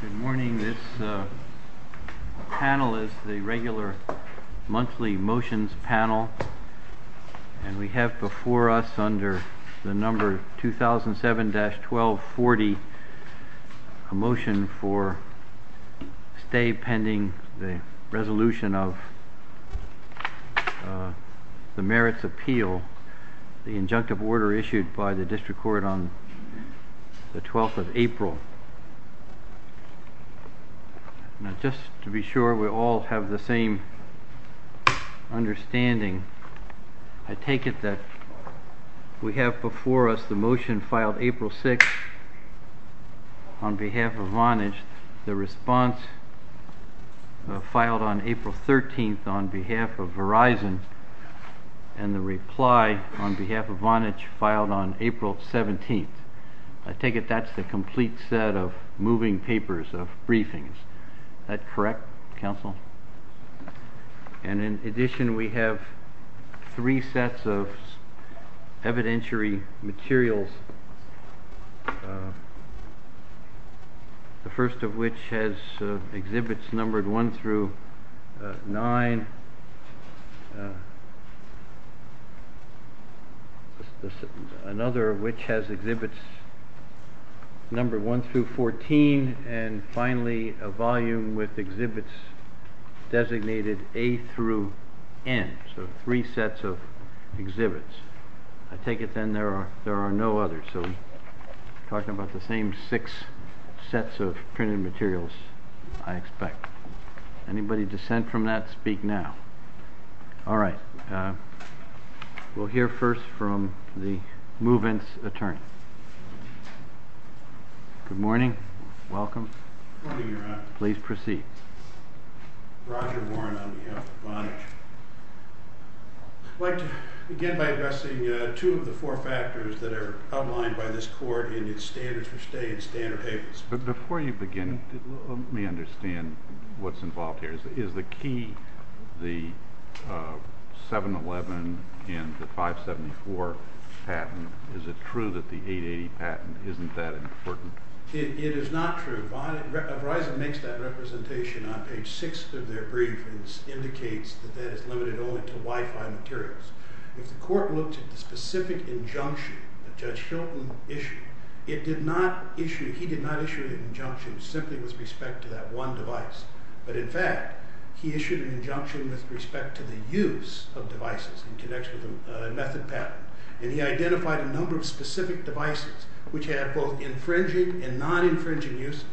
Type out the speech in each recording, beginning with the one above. Good morning, this panel is the regular monthly motions panel and we have before us under the number 2007-1240 a motion for stay pending the resolution of the merits appeal, the injunctive order issued by the district court on the 12th of April. Just to be sure we all have the same understanding, I take it that we have before us the motion filed April 6th on behalf of Vonage, the response filed on April 13th on behalf of Verizon and the reply on behalf of Vonage filed on April 17th. I take it that's the complete set of moving papers of briefings, is that correct counsel? And in addition we have three sets of evidentiary materials, the first of which has exhibits numbered 1-9, another of which has exhibits numbered 1-14 and finally a volume with exhibits designated A-N, so three sets of exhibits. I take it then there are no others, so we're talking about the same six sets of printed materials I expect. Anybody dissent from that, speak now. All right, we'll hear first from the movement's attorney. Good morning, welcome, please proceed. Dr. Warren on behalf of Vonage. I'd like to begin by addressing two of the four factors that are outlined by this court in the standards for stay in standard papers. Before you begin, let me understand what's involved here. Is the key, the 7-11 and the 574 patent, is it true that the 880 patent isn't that important? It is not true. Verizon makes that representation on page 6 of their briefings, indicates that that is limited only to Wi-Fi materials. If the court looks at the specific injunction that Judge Strickland issued, it did not issue, he did not issue an injunction simply with respect to that one device. But in fact, he issued an injunction with respect to the use of devices in connection with the method patent. And he identified a number of specific devices which had, quote, infringing and non-infringing uses.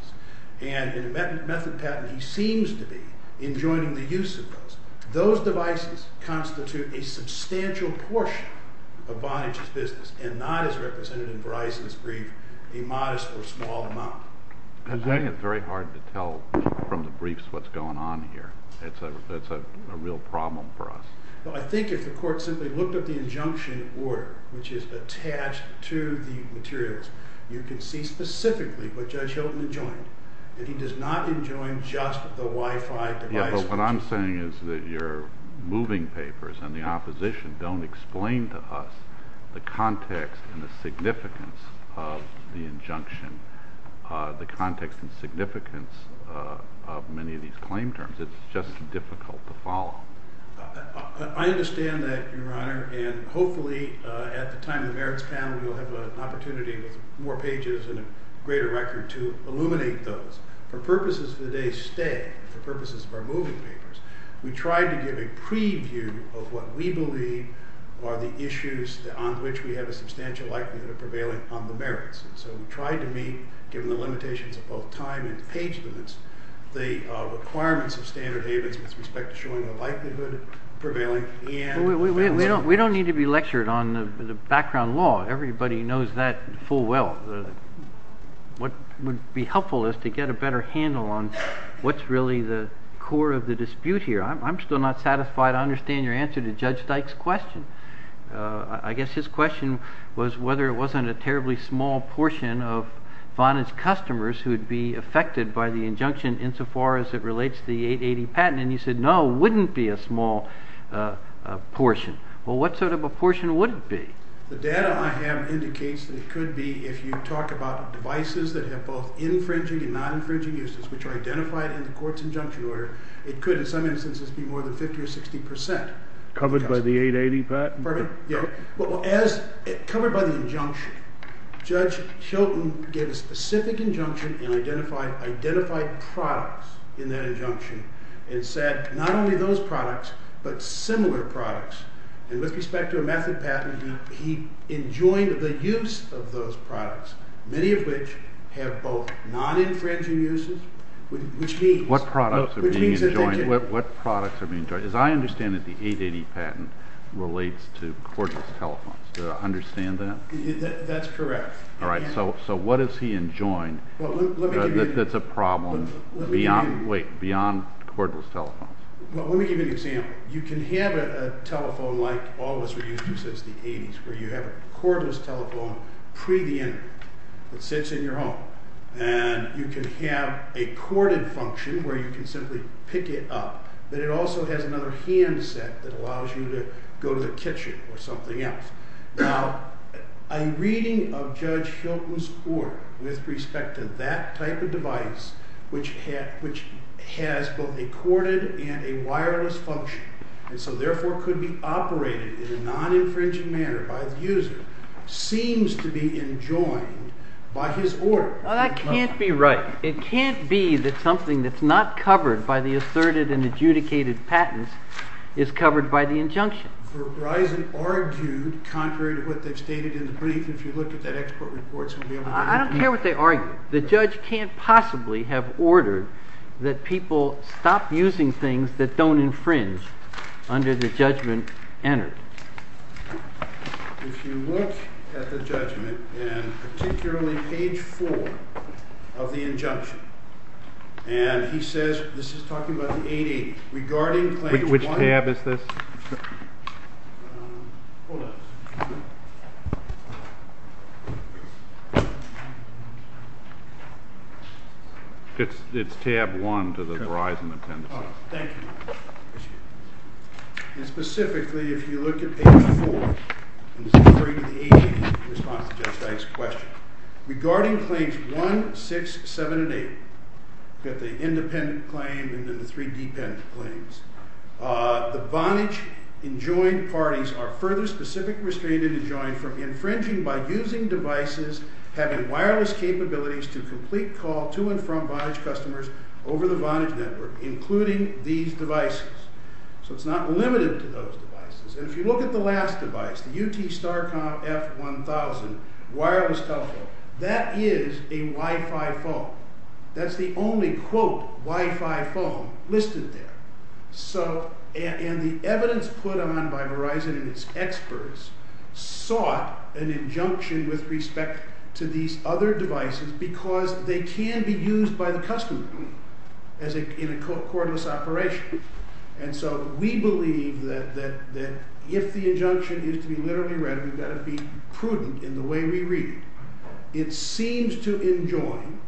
And in the method patent, he seems to be enjoining the use of those. Those devices constitute a substantial portion of Vonage's business and not as represented in Verizon's brief, a modest or small amount. I find it very hard to tell from the briefs what's going on here. That's a real problem for us. Well, I think if the court simply looked at the injunction in order, which is attached to the materials, you can see specifically what Judge Hilton enjoined. It's just difficult to follow. I understand that, Your Honor, and hopefully at the time of Eric's time we'll have an opportunity with more pages and a greater record to illuminate those. For purposes that they say, for purposes of our moving papers, we tried to give a preview of what we believe are the issues on which we have a substantial likelihood of prevailing from the merits. So we tried to meet, given the limitations of both time and page limits, the requirements of standard data with respect to showing the likelihood of prevailing. We don't need to be lectured on the background law. Everybody knows that full well. What would be helpful is to get a better handle on what's really the core of the dispute here. I'm still not satisfied I understand your answer to Judge Dyke's question. I guess his question was whether it wasn't a terribly small portion of Bonnett's customers who would be affected by the injunction insofar as it relates to the 880 patent. And he said, no, it wouldn't be a small portion. Well, what sort of a portion would it be? The data I have indicates that it could be, if you talk about the devices that have both infringing and non-infringing uses which are identified in the court's injunction order, it could, in some instances, be more than 50% or 60%. Covered by the 880 patent? Well, covered by the injunction. Judge Chilton gave a specific injunction and identified products in that injunction and said not only those products but similar products. And with respect to a method patent, he enjoined the use of those products, many of which have both non-infringing uses which means What products are being enjoined? As I understand it, the 880 patent relates to cordless telephones. Do I understand that? That's correct. All right. So what is he enjoined that's a problem beyond cordless telephones? Well, let me give you an example. You can have a telephone like all of us were using since the 80s where you have a cordless telephone pre the injunction that sits in your home. And you can have a corded function where you can simply pick it up. But it also has another handset that allows you to go to the kitchen or something else. Now, a reading of Judge Chilton's court with respect to that type of device, which has both a corded and a wireless function, and so therefore could be operated in a non-infringing manner by a user, seems to be enjoined by his order. Well, that can't be right. It can't be that something that's not covered by the asserted and adjudicated patents is covered by the injunction. But why is it argued contrary to what they've stated in the brief if you look at the expert reports? I don't care what they argue. The judge can't possibly have ordered that people stop using things that don't infringe under the judgment entered. If you look at the judgment, and particularly page four of the injunction, and he says, this is talking about the 80s, Which tab is this? Hold on. It's tab one to the Verizon attendance. Oh, thank you. And specifically, if you look at page four, in the spring of the 80s, the response to Judge Knight's question, regarding claims one, six, seven, and eight, the independent claim and the three dependent claims, the Vonage enjoined parties are further specifically restricted and enjoined from infringing by using devices having wireless capabilities to complete call to and from Vonage customers over the Vonage network, including these devices. So it's not limited to those devices. If you look at the last device, the UT Starcom F1000 wireless telephone, that is a Wi-Fi phone. That's the only, quote, Wi-Fi phone listed there. And the evidence put on by Verizon and its experts sought an injunction with respect to these other devices because they can be used by the customer in a cordless operation. And so we believe that if the injunction is to be literally read, we've got to be prudent in the way we read it. It seems to enjoin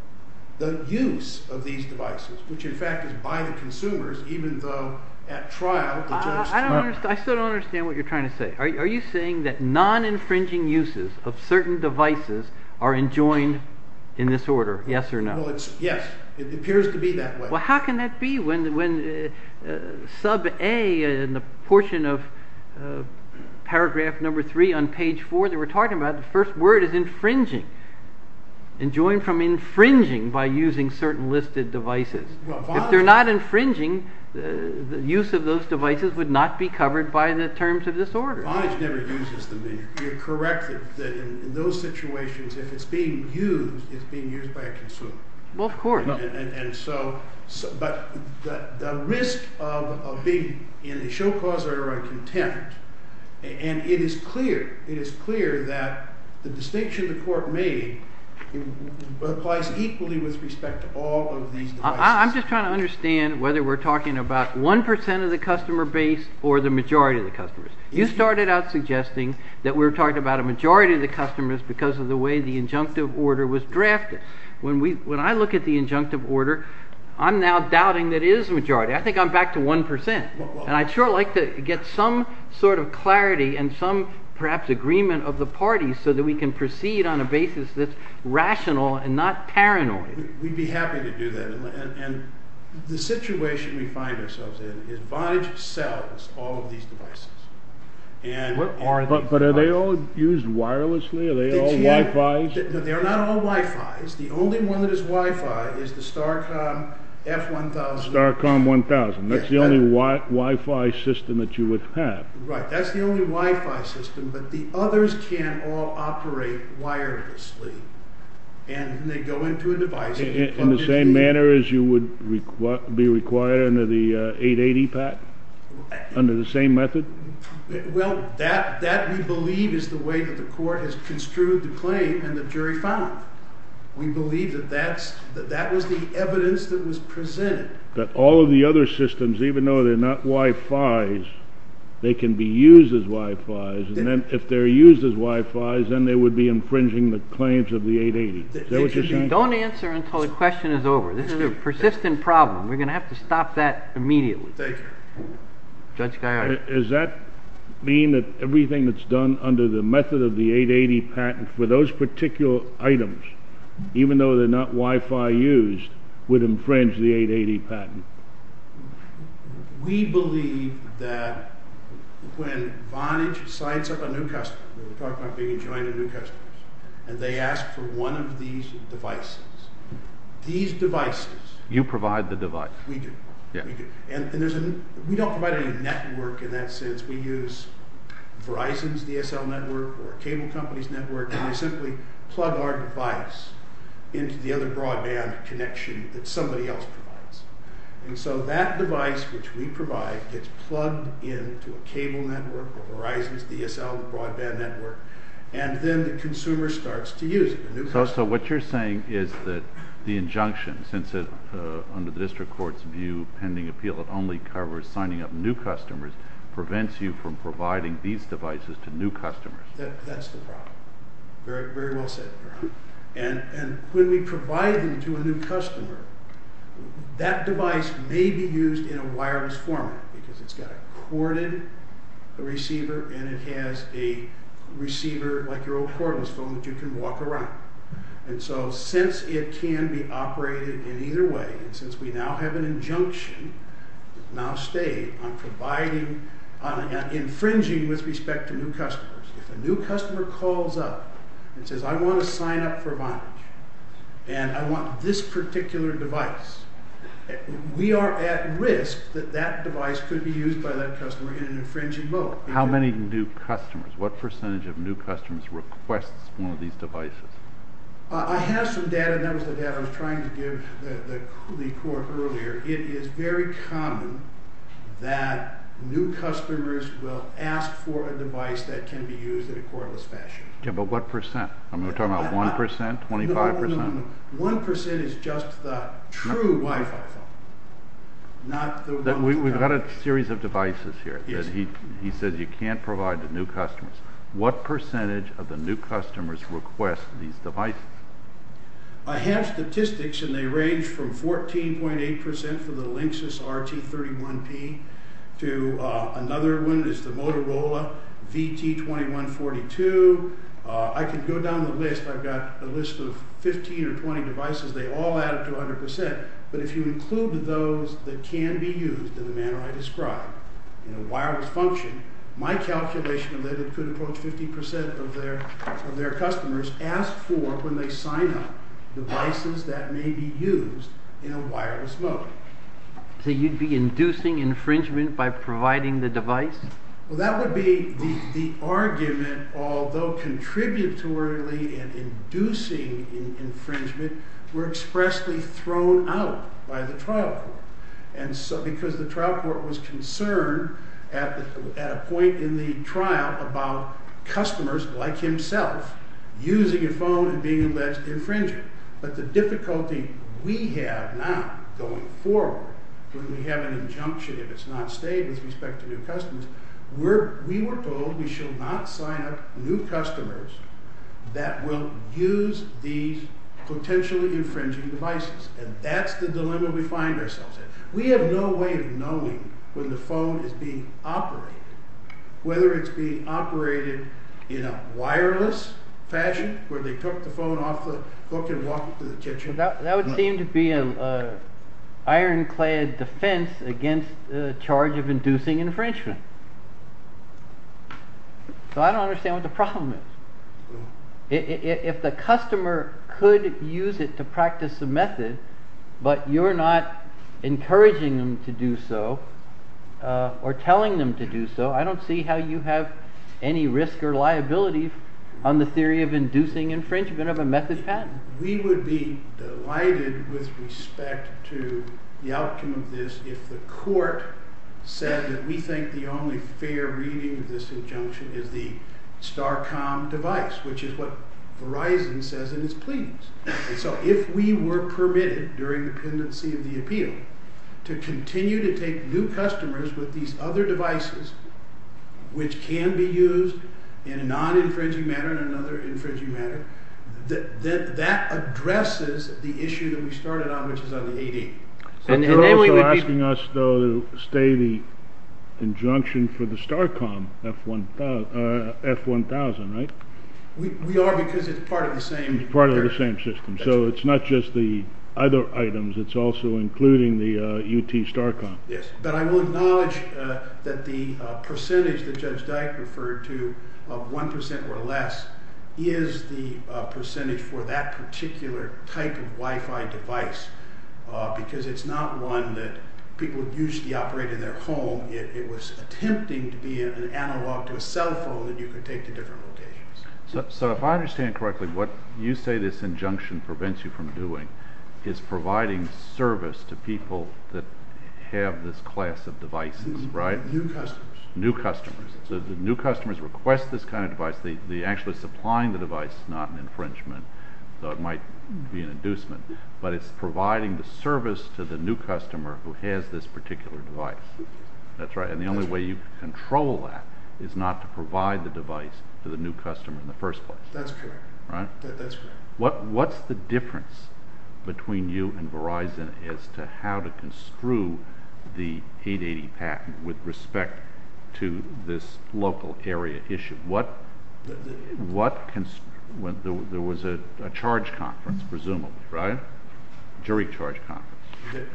the use of these devices, which in fact is by the consumers, even though at trial, I still don't understand what you're trying to say. Are you saying that non-infringing uses of certain devices are enjoined in this order, yes or no? Yes, it appears to be that way. Well, how can that be when sub-A in the portion of paragraph number three on page four that we're talking about, the first word is infringing, enjoined from infringing by using certain listed devices. If they're not infringing, the use of those devices would not be covered by the terms of this order. Vonage never uses them. You're correct that in those situations, if it's being used, it's being used by a consumer. Well, of course. And so the risk of being in a show-cause order or contempt, and it is clear, it is clear that the distinction the court made applies equally with respect to all of these devices. I'm just trying to understand whether we're talking about one percent of the customer base or the majority of the customers. You started out suggesting that we're talking about a majority of the customers because of the way the injunctive order was drafted. When I look at the injunctive order, I'm now doubting that it is a majority. I think I'm back to one percent. And I'd sure like to get some sort of clarity and some perhaps agreement of the parties so that we can proceed on a basis that's rational and not paranoid. We'd be happy to do that. And the situation we find ourselves in is Vonage sells all of these devices. But are they all used wirelessly? Are they all Wi-Fis? They're not all Wi-Fis. The only one that is Wi-Fi is the Starcom F1000. Starcom 1000. That's the only Wi-Fi system that you would have. Right. That's the only Wi-Fi system. But the others can all operate wirelessly. And they go in through devices. In the same manner as you would be required under the 880 PAC? Under the same method? Well, that we believe is the way that the court has construed the claim and the jury found it. We believe that that was the evidence that was presented. That all of the other systems, even though they're not Wi-Fis, they can be used as Wi-Fis. And then if they're used as Wi-Fis, then they would be infringing the claims of the 880. Don't answer until the question is over. This is a persistent problem. We're going to have to stop that immediately. Judge Gallagher. Does that mean that everything that's done under the method of the 880 patent for those particular items, even though they're not Wi-Fi used, would infringe the 880 patent? We believe that when Vonage signs up a new customer, we're talking about being trying a new customer, and they ask for one of these devices. These devices. You provide the device. We do. We don't provide any network in that sense. We use Verizon's DSL network or a cable company's network, and we simply plug our device into the other broadband connection that somebody else provides. And so that device, which we provide, gets plugged into a cable network or Verizon's DSL broadband network, and then the consumer starts to use it. So what you're saying is that the injunction, since under the district court's view, pending appeal it only covers signing up new customers, prevents you from providing these devices to new customers. That's the problem. Very well said. And when we provide them to a new customer, that device may be used in a wireless format because it's got a corded receiver, and it has a receiver like your old cordless phone that you can walk around. And so since it can be operated in either way, and since we now have an injunction, it's now stating I'm infringing with respect to new customers. If a new customer calls up and says, I want to sign up for Vonage, and I want this particular device, we are at risk that that device could be used by that customer in an infringing mode. How many new customers? What percentage of new customers request one of these devices? I have some data. That was the data I was trying to give the court earlier. It is very common that new customers will ask for a device that can be used in a cordless fashion. Okay, but what percent? I'm talking about 1%, 25%? 1% is just true Wi-Fi. We've got a series of devices here. He said you can't provide to new customers. What percentage of the new customers request these devices? I have statistics, and they range from 14.8% for the Linksys RT31P to another one is the Motorola VT2142. I can go down the list. I've got a list of 15 or 20 devices. They all add up to 100%. But if you included those that can be used in the manner I described, in a wireless function, my calculation would have been 2.50% of their customers ask for, when they sign up, devices that may be used in a wireless mode. So you'd be inducing infringement by providing the device? Well, that would be the argument, although contributory and inducing infringement were expressly thrown out by the trial court. And so because the trial court was concerned at a point in the trial about customers like himself using a phone and being the last infringer. But the difficulty we have now, going forward, when we have an injunction and it's not stated with respect to new customers, we were told we should not sign up new customers that will use these potentially infringing devices. And that's the dilemma we find ourselves in. We have no way of knowing when the phone is being operated, whether it's being operated in a wireless fashion, where they took the phone off the book and walked it to the kitchen. That would seem to be an ironclad defense against the charge of inducing infringement. So I don't understand what the problem is. If the customer could use it to practice a method, but you're not encouraging them to do so or telling them to do so, I don't see how you have any risk or liability on the theory of inducing infringement of a method pattern. We would be delighted with respect to the outcome of this if the court said that we think the only fair reading of this injunction is the Starcom device, which is what Verizon says it is pleased. And so if we were permitted during the pendency of the appeal to continue to take new customers with these other devices, which can be used in a non-infringing manner and another infringing manner, then that addresses the issue that we started on, which is other agents. You're also asking us, though, to stay the injunction for the Starcom F1000, right? We are because it's part of the same system. So it's not just the other items. It's also including the UT Starcom. Yes, but I will acknowledge that the percentage that Judge Dyke referred to of 1% or less is the percentage for that particular type of Wi-Fi device because it's not one that people usually operate in their home. It was attempting to be an analog to a cell phone that you could take to different locations. So if I understand correctly, what you say this injunction prevents you from doing is providing service to people that have this class of devices, right? New customers. New customers. So the new customers request this kind of device. Actually supplying the device is not an infringement, though it might be an inducement, but it's providing the service to the new customer who has this particular device. That's right. And the only way you can control that is not to provide the device to the new customer in the first place. That's true. Right? That's true. What's the difference between you and Verizon as to how to construe the 880 patent with respect to this local area issue? There was a charge conference, presumably, right? A jury charge conference.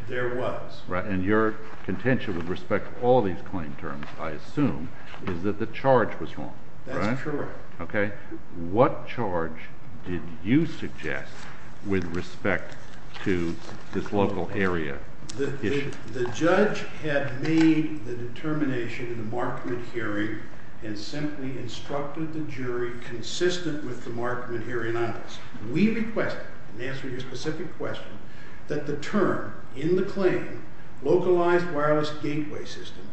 There was. And your contention with respect to all these claim terms, I assume, is that the charge was wrong, right? That's correct. Okay. What charge did you suggest with respect to this local area issue? The judge had made the determination in the Markman hearing and simply instructed the jury consistent with the Markman hearing on us. We requested, to answer your specific question, that the term in the claim, localized wireless gateway system,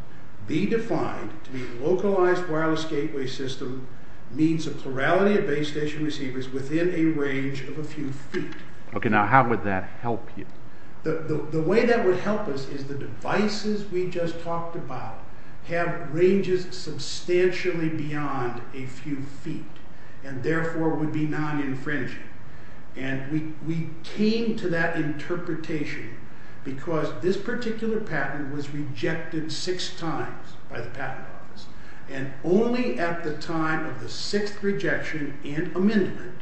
be defined to mean localized wireless gateway system means a plurality of base station receivers within a range of a few feet. Okay. Now, how would that help you? The way that would help us is the devices we just talked about have ranges substantially beyond a few feet and, therefore, would be non-infringing. And we came to that interpretation because this particular patent was rejected six times by the patent office. And only at the time of the sixth rejection and amendment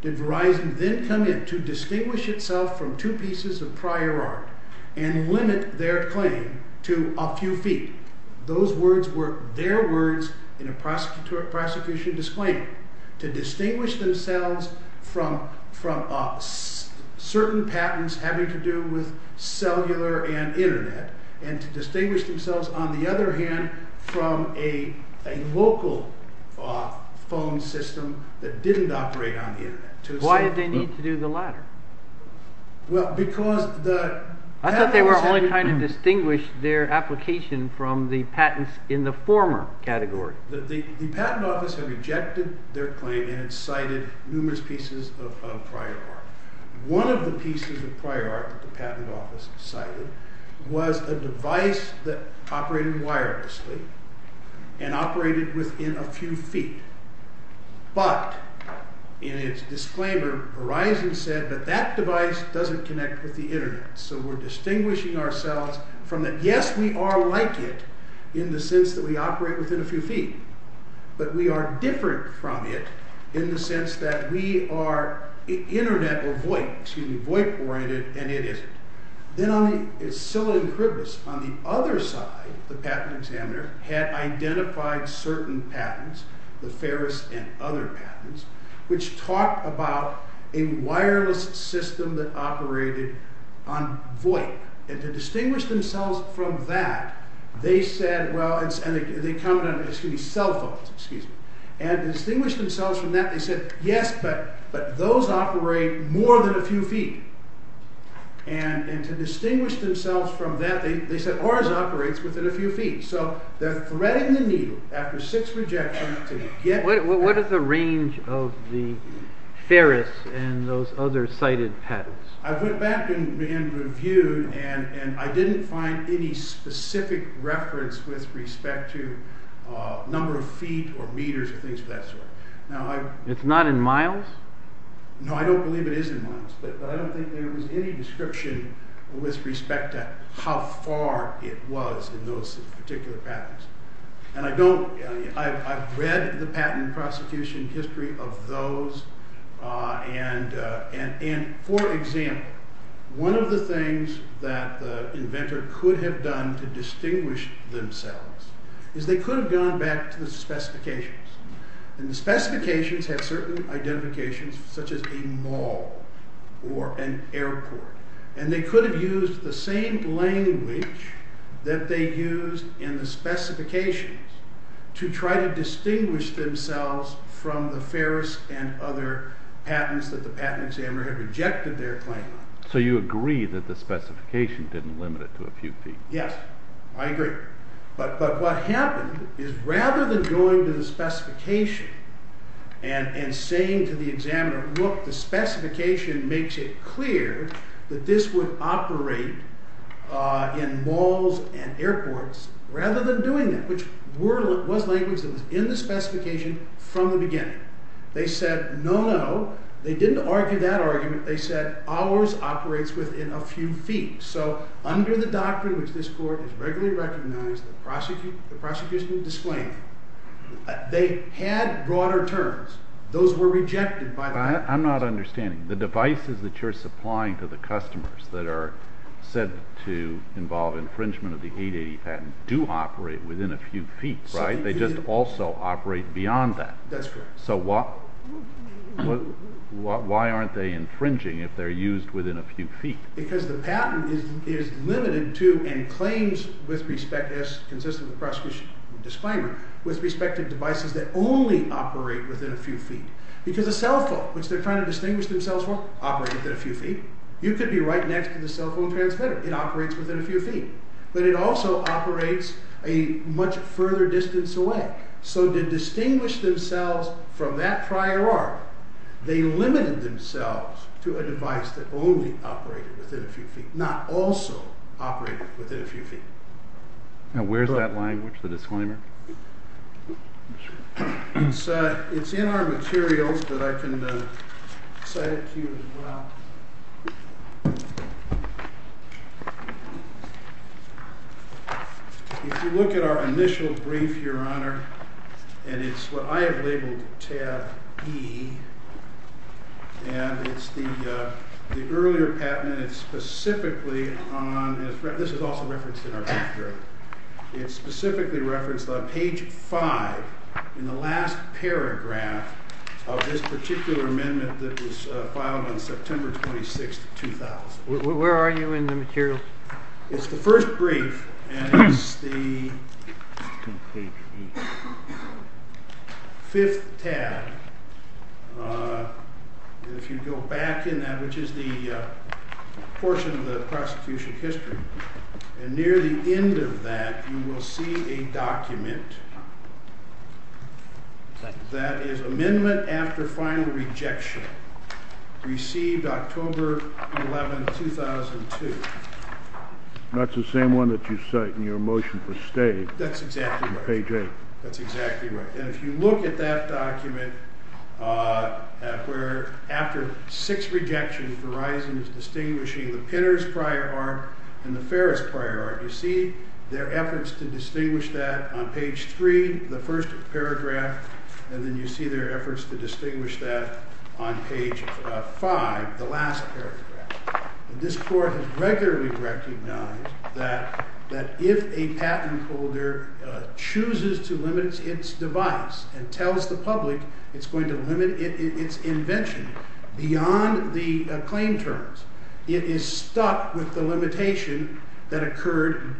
did Verizon then come in to distinguish itself from two pieces of prior art and limit their claim to a few feet. Those words were their words in a prosecution disclaimer. To distinguish themselves from certain patents having to do with cellular and Internet and to distinguish themselves, on the other hand, from a local phone system that didn't operate on the Internet. Why did they need to do the latter? I thought they were only trying to distinguish their application from the patents in the former category. The patent office had rejected their claim and cited numerous pieces of prior art. One of the pieces of prior art that the patent office cited was a device that operated wirelessly and operated within a few feet. But, in its disclaimer, Verizon said that that device doesn't connect with the Internet. So we're distinguishing ourselves from that. Yes, we are like it in the sense that we operate within a few feet, but we are different from it in the sense that we are Internet or VoIP oriented and it isn't. Then on the other side, the patent examiner had identified certain patents, the Ferris and other patents, which talked about a wireless system that operated on VoIP. And to distinguish themselves from that, they said, well, and they termed them, excuse me, cell phones, excuse me. And to distinguish themselves from that, they said, yes, but those operate more than a few feet. And to distinguish themselves from that, they said, Verizon operates within a few feet. So they're threading the needle after six rejections to get... What is the range of the Ferris and those other cited patents? I went back and reviewed and I didn't find any specific reference with respect to number of feet or meters of each vessel. It's not in miles? No, I don't believe it is in miles, but I don't think there was any description with respect to how far it was in those particular patents. And I've read the patent and prosecution history of those. And for example, one of the things that the inventor could have done to distinguish themselves is they could have gone back to the specifications. And the specifications have certain identifications such as a mall or an airport. And they could have used the same language that they used in the specifications to try to distinguish themselves from the Ferris and other patents that the patent examiner had rejected their claim on. So you agree that the specification didn't limit it to a few feet? Yes, I agree. But what happened is rather than going to the specification and saying to the examiner, look, the specification makes it clear that this would operate in malls and airports, rather than doing it, which was language that was in the specification from the beginning. They said, no, no. They didn't argue that argument. They said, ours operates within a few feet. So under the doctrine which this court has regularly recognized, the prosecution's disclaimer, they had broader terms. Those were rejected by the patent. I'm not understanding. The devices that you're supplying to the customers that are said to involve infringement of the 880 patent do operate within a few feet, right? They just also operate beyond that. That's correct. So why aren't they infringing if they're used within a few feet? Because the patent is limited to and claims with respect to, as consistent with the prosecution's disclaimer, with respect to devices that only operate within a few feet. Because a cell phone, which they're trying to distinguish themselves from, operates within a few feet. You could be right next to the cell phone transmitter. It operates within a few feet. But it also operates a much further distance away. So to distinguish themselves from that prior art, they limited themselves to a device that only operated within a few feet, not also operated within a few feet. Now, where's that language, the disclaimer? It's in our materials, but I can cite it to you as well. If you look at our initial brief, Your Honor, and it's what I have labeled tab E, and it's the earlier patent that's specifically on this. This is also referenced in our paper. It's specifically referenced on page 5 in the last paragraph of this particular amendment that was filed on September 26, 2000. Where are you in the materials? It's the first brief, and it's the fifth tab. If you go back in that, which is the portion of the prosecution history. And near the end of that, you will see a document that is amendment after final rejection, received October 11, 2002. That's the same one that you cite in your motion for staying. That's exactly right. Page 8. That's exactly right. And if you look at that document, where after six rejections, Verizon is distinguishing the Pinner's prior art and the Ferris prior art. You see their efforts to distinguish that on page 3, the first paragraph, and then you see their efforts to distinguish that on page 5, the last paragraph. This court has regularly recognized that if a patent holder chooses to limit its device and tells the public it's going to limit its invention beyond the claim terms, it is stuck with the limitation that occurred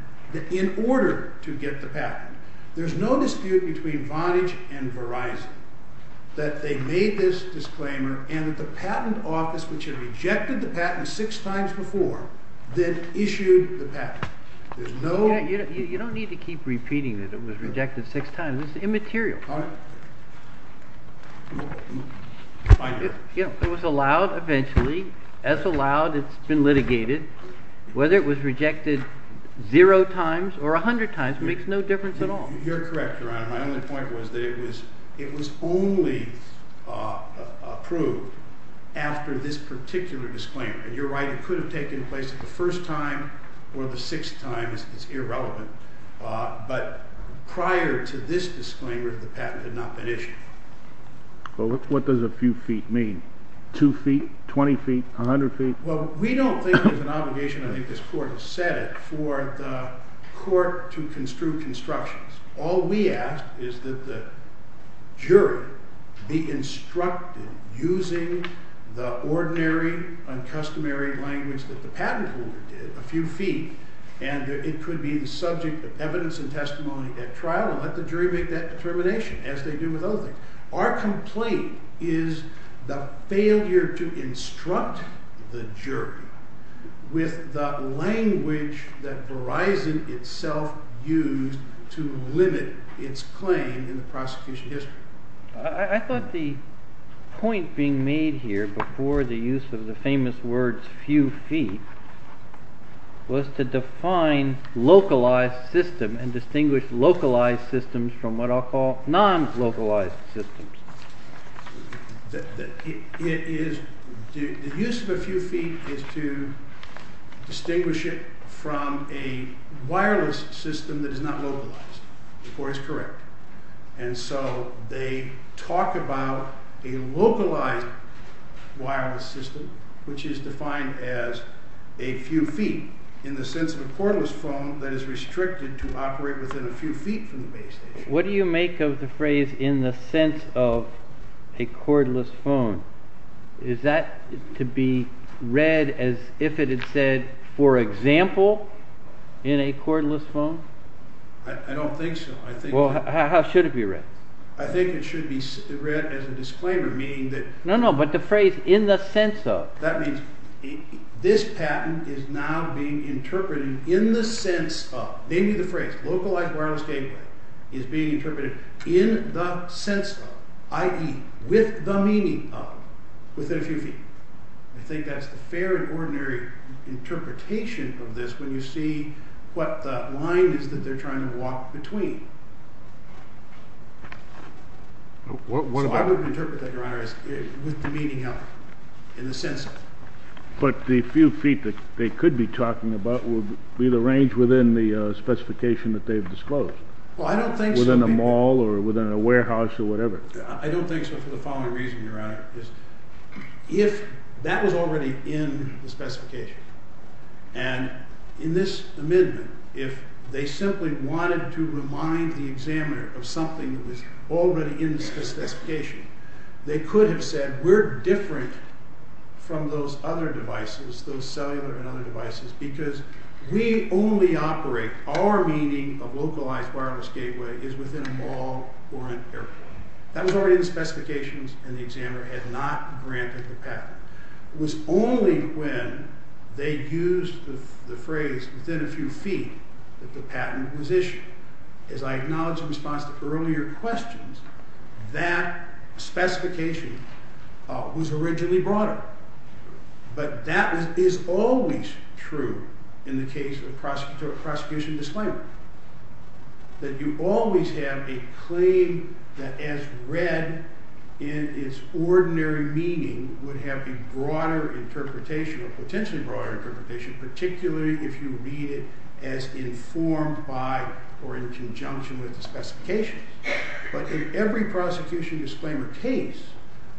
in order to get the patent. There's no dispute between Vonage and Verizon that they made this disclaimer, and the patent office, which had rejected the patent six times before, then issued the patent. There's no... You don't need to keep repeating that it was rejected six times. It's immaterial. It was allowed eventually. It's allowed. It's been litigated. Whether it was rejected zero times or a hundred times makes no difference at all. You're correct, Your Honor. My only point was that it was only approved after this particular disclaimer. And you're right. It could have taken place the first time or the sixth time. It's irrelevant. But prior to this disclaimer, the patent had not been issued. Well, what does a few feet mean? Two feet? Twenty feet? A hundred feet? Well, we don't think there's an obligation, I think this court has said, for the court to construe constructions. All we ask is that the jury be instructed using the ordinary, uncustomary language that the patent holder did, a few feet. And it could be the subject of evidence and testimony at trial. Let the jury make that determination, as they do with other things. Our complaint is the failure to instruct the jury with the language that Verizon itself used to limit its claim in the prosecution history. I thought the point being made here before the use of the famous words few feet was to define localized system and distinguish localized systems from what I'll call non-localized systems. The use of a few feet is to distinguish it from a wireless system that is not localized. The court is correct. And so they talk about a localized wireless system, which is defined as a few feet, in the sense of a cordless phone that is restricted to operate within a few feet from the base station. What do you make of the phrase in the sense of a cordless phone? Is that to be read as if it had said, for example, in a cordless phone? I don't think so. Well, how should it be read? I think it should be read as a disclaimer, meaning that— No, no, but the phrase in the sense of. That means this patent is now being interpreted in the sense of. Maybe the phrase localized wireless gateway is being interpreted in the sense of, i.e., with the meaning of, within a few feet. I think that's a fair and ordinary interpretation of this when you see what the line is that they're trying to walk between. I would interpret that, Your Honor, as with the meaning of, in the sense of. But the few feet that they could be talking about would be the range within the specification that they've disclosed. Well, I don't think so. Within a mall or within a warehouse or whatever. I don't think so for the following reason, Your Honor. If that was already in the specification, and in this amendment, if they simply wanted to remind the examiner of something that was already in the specification, they could have said, we're different from those other devices, those cellular and other devices, because we only operate, our meaning of localized wireless gateway is within the mall or in a warehouse. That was already in the specifications, and the examiner had not granted the patent. It was only when they used the phrase, within a few feet, that the patent was issued. As I acknowledged in response to earlier questions, that specification was originally brought up. But that is always true in the case of prosecution disclaimer. That you always have a claim that, as read in its ordinary meaning, would have a broader interpretation, a potentially broader interpretation, particularly if you read it as informed by or in conjunction with the specification. But in every prosecution disclaimer case,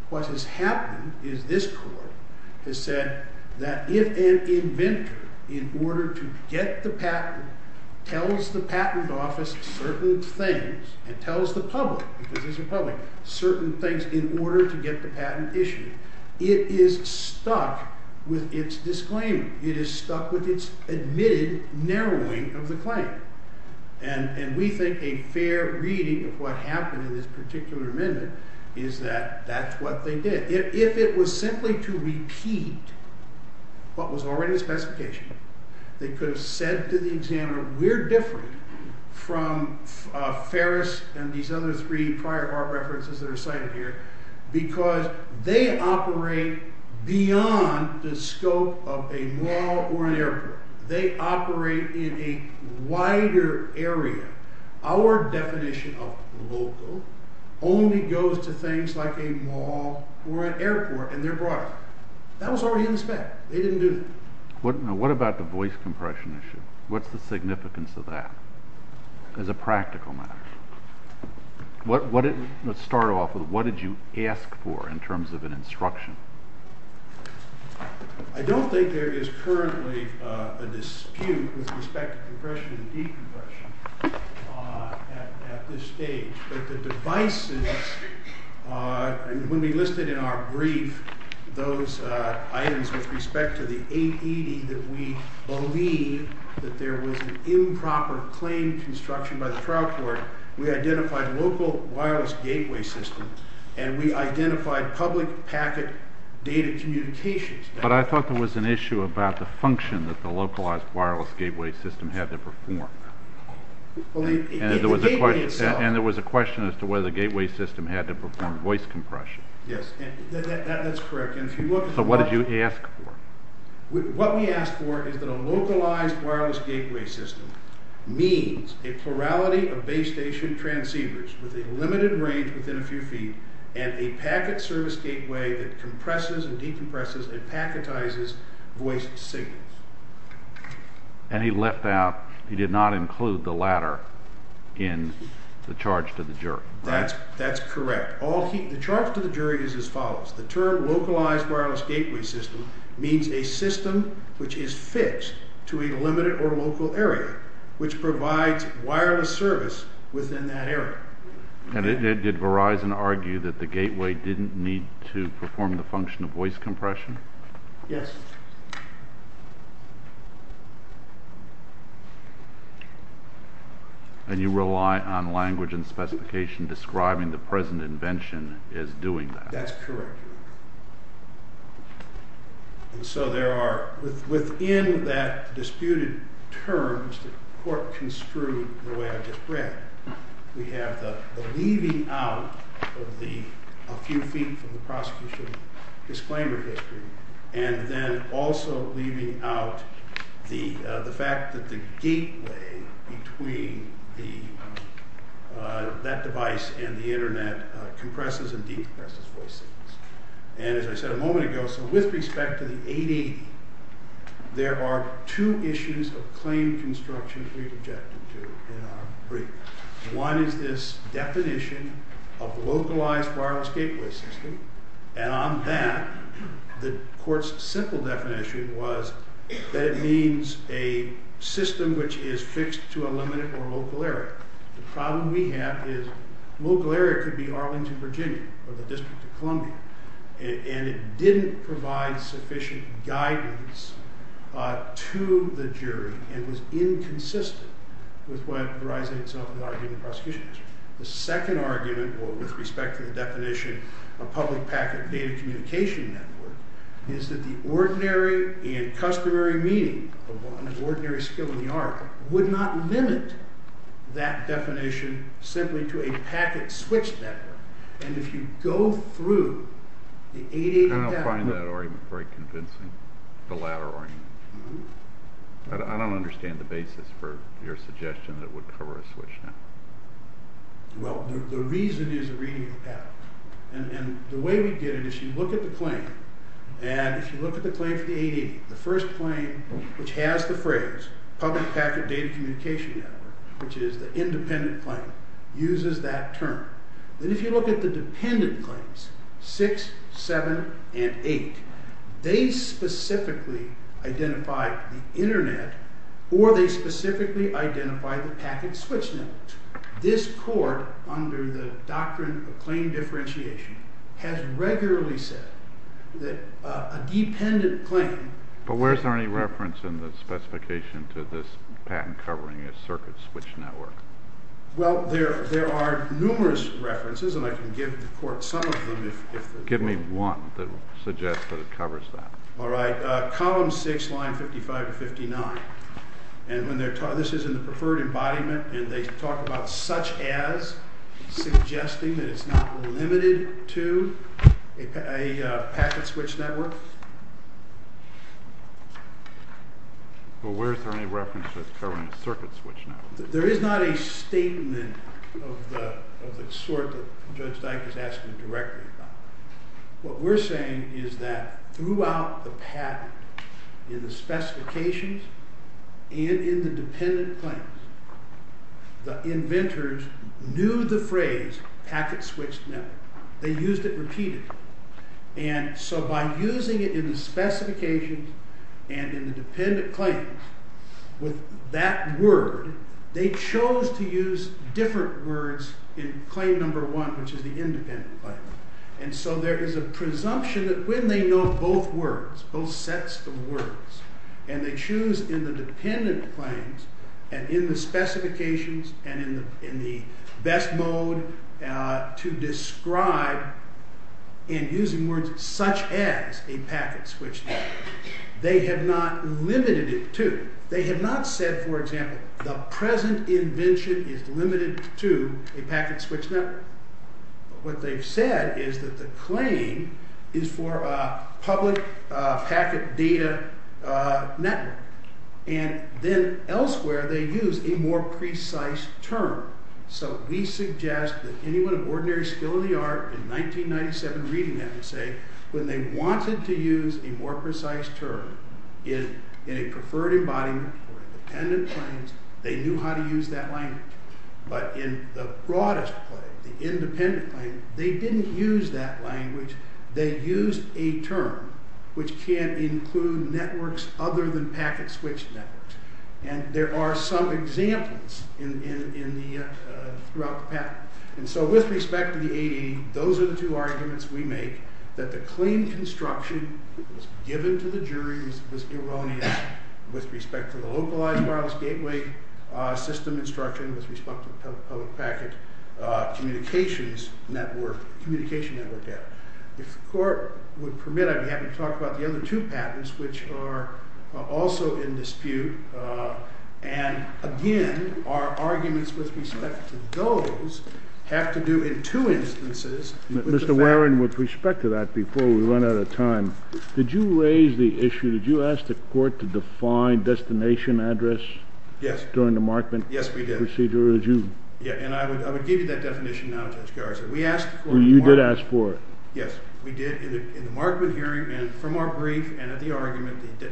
what has happened is this court has said that if an inventor, in order to get the patent, tells the patent office certain things and tells the public, because there's a public, certain things in order to get the patent issued, it is stuck with its disclaimer. It is stuck with its admitted narrowing of the claim. And we think a fair reading of what happened in this particular amendment is that that's what they did. If it was simply to repeat what was already in the specification, they could have said to the examiner, We're different from Ferris and these other three prior references that are cited here, because they operate beyond the scope of a mall or an airport. They operate in a wider area. Our definition of local only goes to things like a mall or an airport, and they're broader. That was already in the spec. They didn't do that. What about the voice compression issue? What's the significance of that as a practical matter? Let's start off with what did you ask for in terms of an instruction? I don't think there is currently a dispute with respect to compression and decompression at this stage. But the devices, when we listed in our brief those items with respect to the 880, that we believe that there was an improper claim construction by the trial court, we identified local wireless gateway systems, and we identified public packet data communications. But I thought there was an issue about the function that the localized wireless gateway system had to perform. And there was a question as to whether the gateway system had to perform voice compression. Yes, that's correct. So what did you ask for? What we asked for is that a localized wireless gateway system means a plurality of base station transceivers with a limited range within a few feet and a packet service gateway that compresses and decompresses and packetizes voice signals. And he left out, he did not include the latter in the charge to the jury. That's correct. The charge to the jury is as follows. The term localized wireless gateway system means a system which is fixed to a limited or local area, which provides wireless service within that area. And did Verizon argue that the gateway didn't need to perform the function of voice compression? Yes. And you rely on language and specification describing the present invention as doing that. That's correct. So there are, within that disputed terms, the court construed the way I just read, we have the leaving out of a few feet from the prosecution's disclaimer picture, and then also leaving out the fact that the gateway between that device and the internet compresses and decompresses voice signals. And as I said a moment ago, so with respect to the 880, there are two issues of claim construction we objected to. One is this definition of localized wireless gateway system. And on that, the court's simple definition was that it means a system which is fixed to a limited or local area. The problem we have is local area could be Arlington, Virginia, or the District of Columbia. And it didn't provide sufficient guidance to the jury, and was inconsistent with what Verizon itself argued in prosecution. The second argument, or with respect to the definition of public packet data communication network, is that the ordinary and customary meaning of what an ordinary skill in the art would not limit that definition simply to a packet switch network. And if you go through the 880... I don't find that argument very convincing, the latter argument. I don't understand the basis for your suggestion that it would cover a switch network. Well, the reason is a reading of the packet. And the way we did it is you look at the claim, and if you look at the claim for the 880, the first claim which has the phrase public packet data communication network, which is the independent claim, uses that term. And if you look at the dependent claims, 6, 7, and 8, they specifically identify the Internet, or they specifically identify the packet switch network. This court, under the doctrine of claim differentiation, has regularly said that a dependent claim... But where is there any reference in the specification to this patent covering a circuit switch network? Well, there are numerous references, and I can give the court some of them. Give me one that will suggest that it covers that. All right. Column 6, line 55 to 59. And this is in the preferred embodiment, and they talk about such as, suggesting that it's not limited to a packet switch network. Well, where is there any references covering a circuit switch network? There is not a statement of the sort that Judge Steiff has asked me directly about. What we're saying is that throughout the patent, in the specifications and in the dependent claims, the inventors knew the phrase packet switch network. They used it repeatedly. And so by using it in the specifications and in the dependent claims with that word, they chose to use different words in claim number 1, which is the independent claim. And so there is a presumption that when they know both words, both sets of words, and they choose in the dependent claims and in the specifications and in the best mode to describe in using words such as a packet switch network, they have not limited it to. They have not said, for example, the present invention is limited to a packet switch network. What they've said is that the claim is for a public packet data network. And then elsewhere, they use a more precise term. So we suggest that anyone of ordinary skill in the art in 1997 reading have to say when they wanted to use a more precise term in a preferred embodiment or dependent claims, they knew how to use that language. But in the broadest claim, the independent claim, they didn't use that language. They used a term which can't include networks other than packet switch networks. And there are some examples throughout the patent. And so with respect to the AE, those are the two arguments we make that the claim construction given to the jury was irrelevant with respect to the localized wireless gateway system instruction with respect to the public packet communications network, communication network data. If the court would permit, I'd be happy to talk about the other two patents, which are also in dispute. And again, our arguments with respect to those have to do in two instances. Mr. Warren, with respect to that, before we run out of time, did you raise the issue, did you ask the court to define destination address during the markment procedure? Yes, we did. And I would give you that definition now, Judge Garza. You did ask for it. Yes, we did. In the markment hearing and from our brief and at the argument, the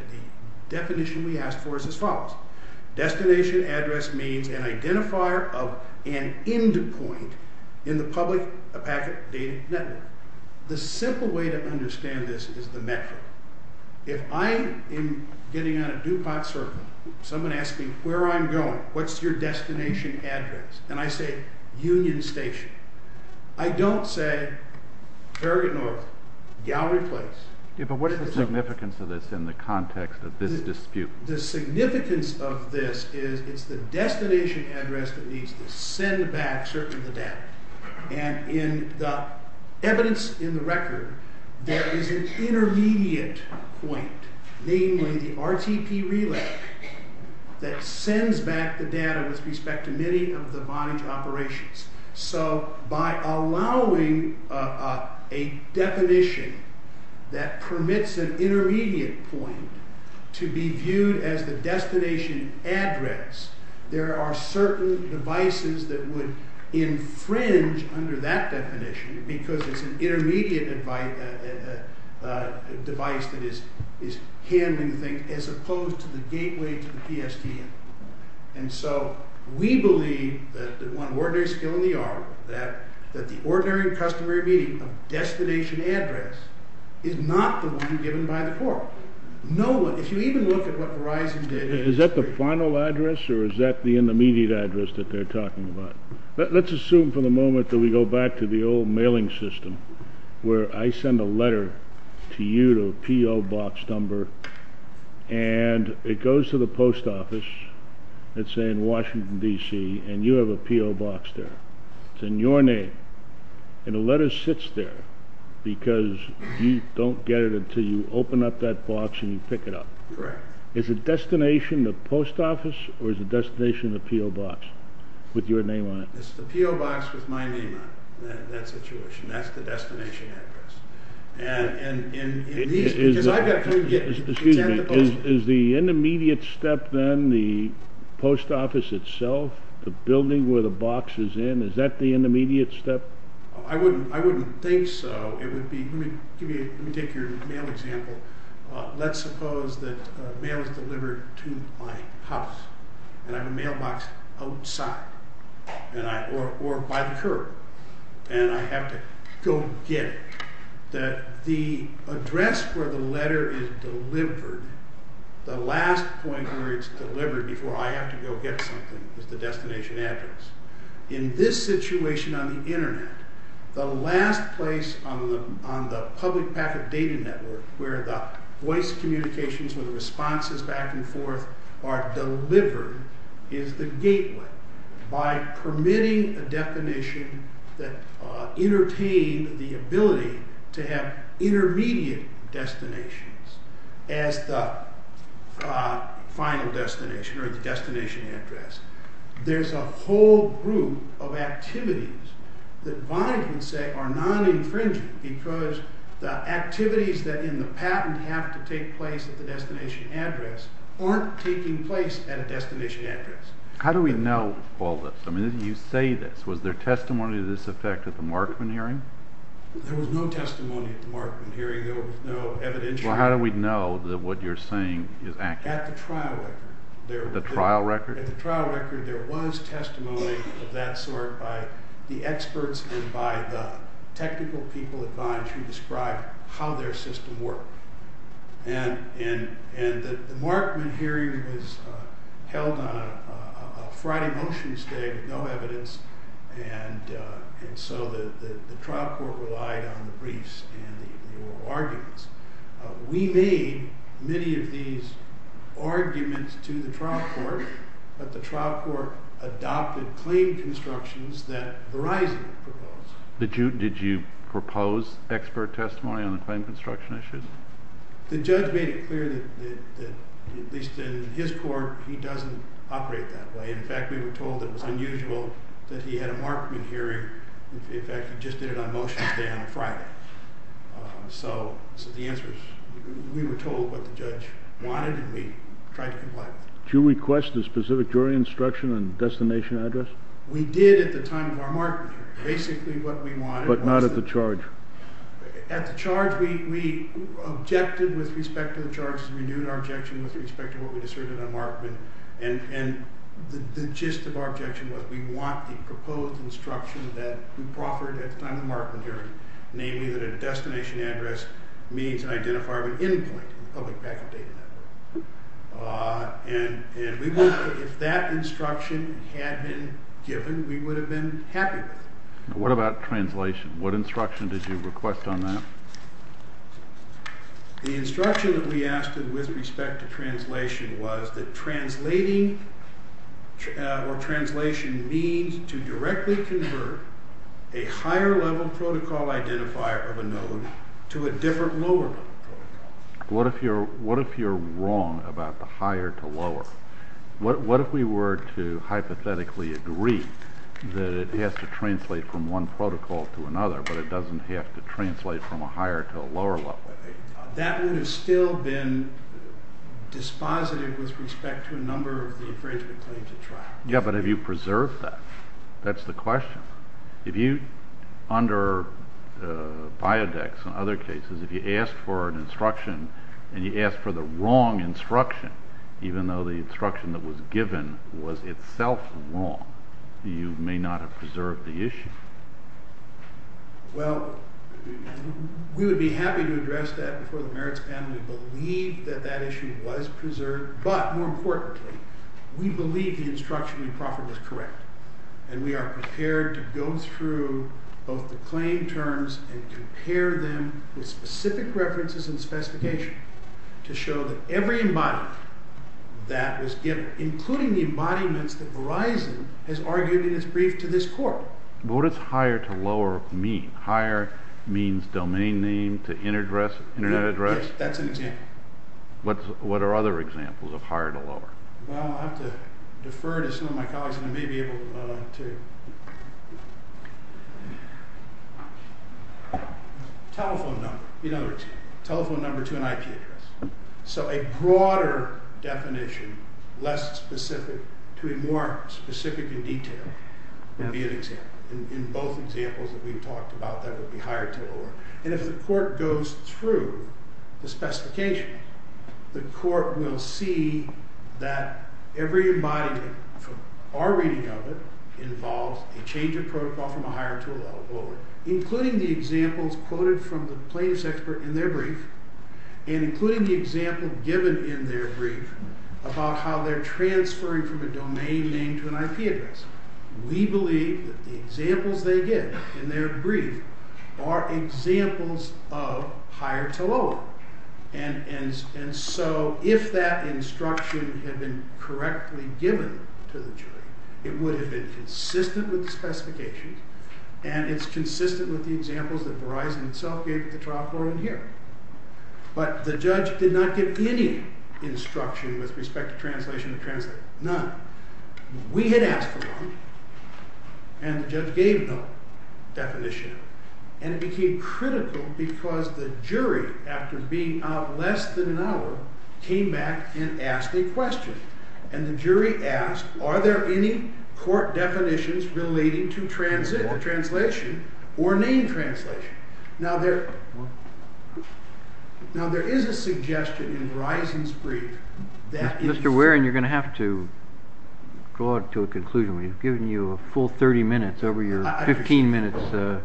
definition we asked for is as follows. Destination address means an identifier of an endpoint in the public packet data network. The simple way to understand this is the metric. If I am getting on a DuPont circle, someone asks me where I'm going, what's your destination address? And I say Union Station. I don't say Ferguson Road, gallery place. Yeah, but what is the significance of this in the context of this dispute? The significance of this is it's the destination address that needs to send back certain data. And in the evidence in the record, there is an intermediate point, namely the RTP relay that sends back the data with respect to many of the bond operations. So, by allowing a definition that permits an intermediate point to be viewed as the destination address, there are certain devices that would infringe under that definition because it's an intermediate device that is handling things as opposed to the gateway to the PSTN. And so, we believe that the one ordinary skill in the art, that the ordinary and customary meaning of destination address is not going to be given by the court. No one, if you even look at what Verizon did... Is that the final address or is that the intermediate address that they're talking about? Let's assume for the moment that we go back to the old mailing system, where I send a letter to you to a P.O. box number, and it goes to the post office, let's say in Washington, D.C., and you have a P.O. box there. It's in your name, and the letter sits there because you don't get it until you open up that box and you pick it up. Correct. Is the destination the post office or is the destination the P.O. box with your name on it? It's the P.O. box with my name on it in that situation. That's the destination address. Is the intermediate step then the post office itself, the building where the box is in, is that the intermediate step? I wouldn't think so. Let me give you a mail example. Let's suppose that mail is delivered to my house, and I have a mail box outside or by the curb, and I have to go get it. The address where the letter is delivered, the last point where it's delivered before I have to go get something is the destination address. In this situation on the Internet, the last place on the public packet data network where the voice communications or the responses back and forth are delivered is the gateway. By permitting a definition that entertained the ability to have intermediate destinations as the final destination or the destination address, there's a whole group of activities that Biden would say are non-infringing because the activities that in the patent have to take place at the destination address aren't taking place at a destination address. How do we know all this? You say this. Was there testimony to this effect at the Markman hearing? There was no testimony at the Markman hearing. Well, how do we know that what you're saying is accurate? At the trial record. The trial record? At the trial record, there was testimony of that sort by the experts and by the technical people at Von to describe how their system worked. And the Markman hearing was held on a Friday, Wednesday with no evidence, and so the trial court relied on the briefs and oral arguments. We made many of these arguments to the trial court, but the trial court adopted claim constructions that Verizon proposed. Did you propose expert testimony on the claim construction issues? The judge made it clear that, at least in his court, he doesn't operate that way. In fact, we were told it was unusual that he had a Markman hearing. In fact, we just did our motions there on a Friday. So the answer is, we were told what the judge wanted, and we tried to comply. Did you request a specific jury instruction on the destination address? We did at the time of our Markman hearing, basically what we wanted. But not at the charge? At the charge, we objected with respect to the charge. We knew our objection with respect to what was asserted on Markman, and the gist of our instruction that we proffered at the time of the Markman hearing, namely that a destination address means an identifier of an endpoint in the public data network. And we believe that if that instruction had been given, we would have been happier. What about translation? What instruction did you request on that? The instruction that we asked with respect to translation was that translating or a higher level protocol identifier of a node to a different lower protocol. What if you're wrong about the higher to lower? What if we were to hypothetically agree that it has to translate from one protocol to another, but it doesn't have to translate from a higher to a lower level? That would have still been dispositive with respect to a number of the infringement claims at trial. Yeah, but have you preserved that? That's the question. If you, under Biodex and other cases, if you ask for an instruction and you ask for the wrong instruction, even though the instruction that was given was itself wrong, you may not have preserved the issue. Well, we would be happy to address that before the merits panel. We believe that that issue was preserved. But more importantly, we believe the instruction we proffered was correct. And we are prepared to go through both the claim terms and compare them with specific references and specifications to show that every environment that was given, including the environments that Verizon has argued in its brief to this court. What does higher to lower mean? Higher means domain name to internet address? Yes, that's an example. What are other examples of higher to lower? Well, I'll have to defer to some of my colleagues, and I may be able to dwell on it, too. Telephone number. You know, telephone number to an IP address. So a broader definition, less specific, to be more specific in detail, would be an example. In both examples that we've talked about, that would be higher to lower. And if the court goes through the specification, the court will see that every environment, from our reading of it, involves a change of protocol from a higher to a lower. Including the examples quoted from the claims expert in their brief, and including the example given in their brief about how they're transferring from a domain name to an IP address. We believe that the examples they give in their brief are examples of higher to lower. And so if that instruction had been correctly given to the jury, it would have been consistent with the specification, and it's consistent with the examples that Verizon itself gave to the trial court in the hearing. But the judge did not give any instruction with respect to translation and transfer. None. We had asked around, and the judge gave no definition. And it became critical because the jury, after being out less than an hour, came back and asked a question. And the jury asked, are there any court definitions relating to translation or name translation? Now, there is a suggestion in Verizon's brief that Mr. Waring, you're going to have to draw it to a conclusion. We've given you a full 30 minutes over your 15 minutes. We're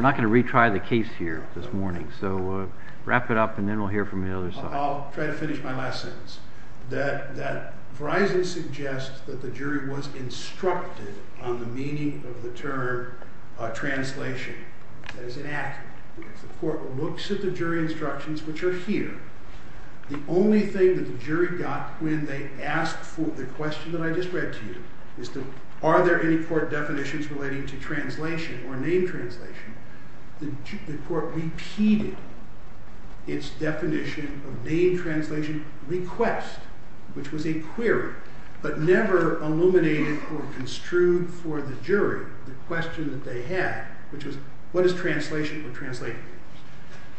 not going to retry the case here this morning. So wrap it up, and then we'll hear from the other side. I'll try to finish my last sentence. That Verizon suggests that the jury was instructed on the meaning of the term translation. That is inaccurate. The court looks at the jury instructions, which are here. The only thing that the jury got when they asked for the question that I just read to you is, are there any court definitions relating to translation or name translation? The court repeated its definition of name translation request, which was a query, but never illuminated or construed for the jury the question that they had, which was, what is translation of translation?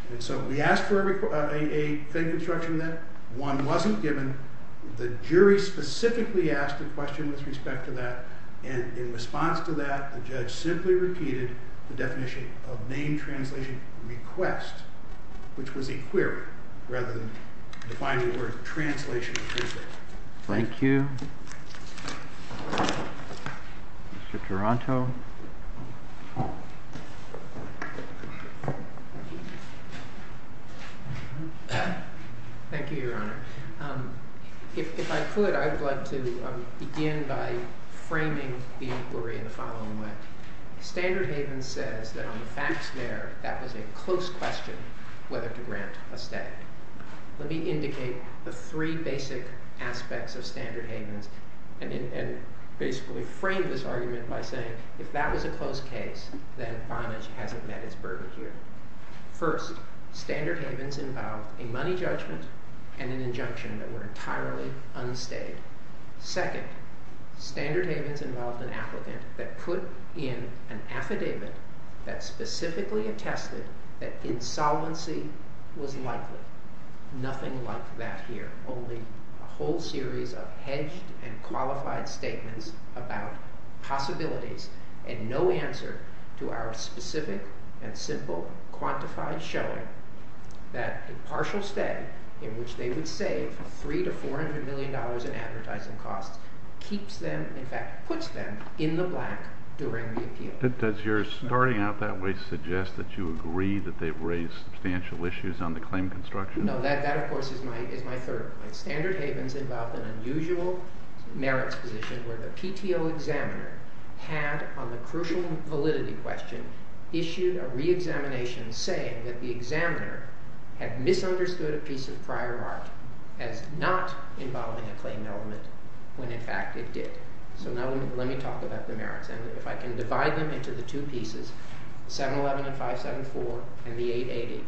And so we asked for a thing instruction then. One wasn't given. The jury specifically asked a question with respect to that. And in response to that, a judge simply repeated the definition of name translation request, which was a query rather than defining the word translation. Thank you. Mr. Taranto. Thank you, Your Honor. If I could, I would like to begin by framing the inquiry in the following way. Standard Haven says that on the facts there, that was a close question whether to grant a statement. Let me indicate the three basic aspects of Standard Haven and basically frame this argument by saying, if that was a close case, then Vonage hasn't met its burden here. First, Standard Havens involved a money judgment and an injunction that were entirely unstated. Second, Standard Havens involved an applicant that put in an affidavit that specifically attested that insolvency was likely. Nothing like that here, only a whole series of hedged and qualified statements about possibilities and no answer to our specific and simple quantified showing that the partial stay in which they would save $300 to $400 million in advertising costs keeps them, in fact, puts them in the black during the appeal. Does your starting out that way suggest that you agree that they've raised substantial issues on the claim construction? No, that, of course, is my third argument. Standard Havens involved an unusual merits position where the PTO examiner had, on the crucial validity question, issued a reexamination saying that the examiner had misunderstood a piece of prior art as not involving a claim element when, in fact, it did. So now let me talk about the merits. And if I can divide them into the two pieces, 711 and 574, and the 880.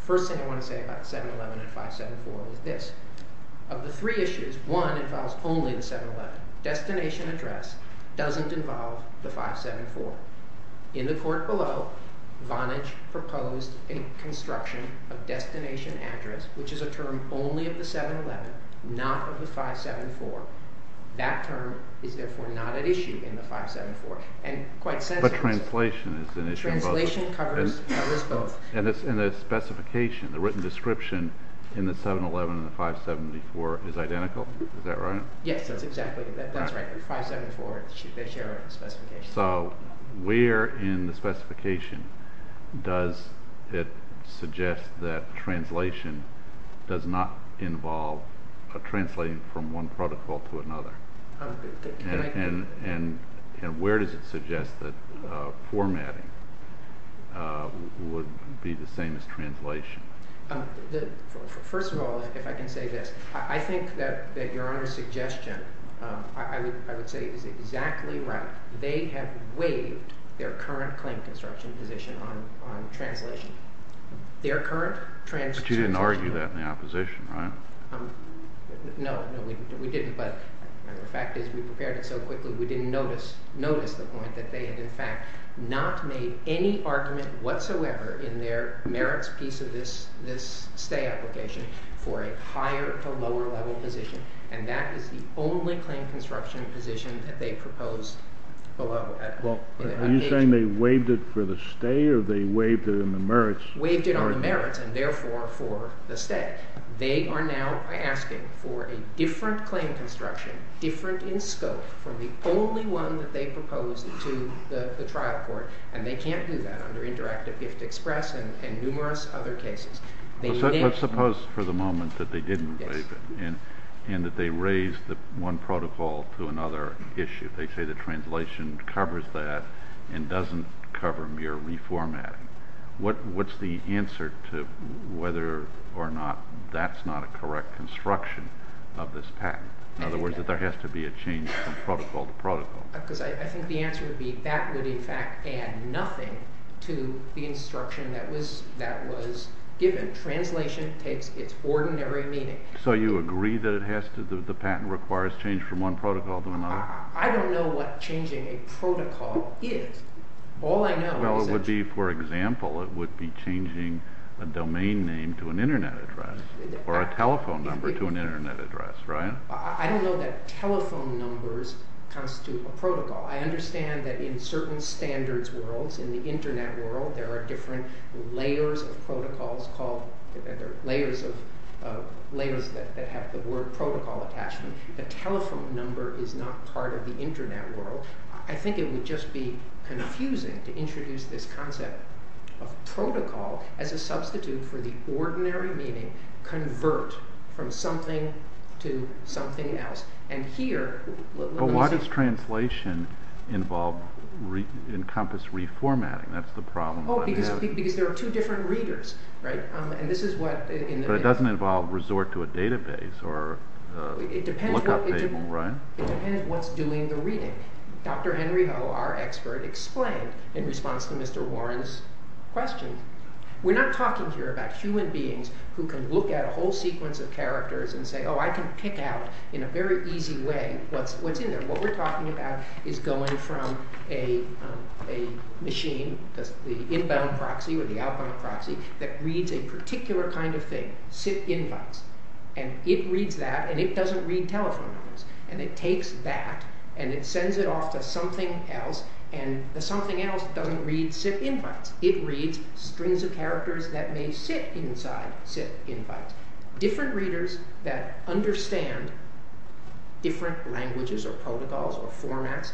First thing I want to say about 711 and 574 is this. Of the three issues, one involves only the 711. Destination address doesn't involve the 574. In the court below, Vonage proposed a construction of destination address, which is a term only of the 711, not of the 574. That term is therefore not an issue in the 574. But translation is an issue. Translation covers both. And the specification, the written description in the 711 and the 574 is identical. Is that right? Yes, exactly. That's right. 574, they share a specification. So where in the specification does it suggest that translation does not involve a translation from one protocol to another? And where does it suggest that formatting would be the same as translation? First of all, if I can say this, I think that Your Honor's suggestion, I would say, is exactly right. They have waived their current claim construction position on translation. Their current trans- But you didn't argue that in the opposition, right? No, we didn't. But the fact is we prepared it so quickly we didn't notice the point that they had, in fact, not made any argument whatsoever in their merits piece of this stay application for a higher to lower level position. And that is the only claim construction position that they proposed below that. Are you saying they waived it for the stay or they waived it in the merits? Waived it on merits and, therefore, for the stay. They are now asking for a different claim construction, different in scope, from the only one that they proposed to the trial court. And they can't do that under Interactive Gift Express and numerous other cases. Let's suppose for the moment that they didn't waive it and that they raised one protocol to another issue. They say the translation covers that and doesn't cover mere reformatting. What's the answer to whether or not that's not a correct construction of this patent? In other words, that there has to be a change from protocol to protocol. I think the answer would be that would, in fact, add nothing to the instruction that was given. Translation takes its ordinary meaning. So you agree that the patent requires change from one protocol to another? I don't know what changing a protocol is. Well, it would be, for example, it would be changing a domain name to an Internet address or a telephone number to an Internet address, right? I don't know that telephone numbers constitute a protocol. I understand that in certain standards worlds, in the Internet world, there are different layers of protocols called layers that have the word protocol attached to them. The telephone number is not part of the Internet world. I think it would just be confusing to introduce this concept of protocol as a substitute for the ordinary meaning convert from something to something else. But why does translation encompass reformatting? That's the problem. Because there are two different readers, right? But it doesn't involve resort to a database or look-up table, right? It depends on what's doing the reading. Dr. Henry Ho, our expert, explained in response to Mr. Warren's question. We're not talking here about human beings who can look at a whole sequence of characters and say, oh, I can pick out in a very easy way what's in there. What we're talking about is going from a machine, the inbound proxy or the outbound proxy, that reads a particular kind of thing, sit inbound, and it reads that, and it doesn't read telephone numbers. And it takes that and it sends it off to something else, and the something else doesn't read sit inbound. It reads strings of characters that may sit inside sit inbound. Different readers that understand different languages or protocols or formats,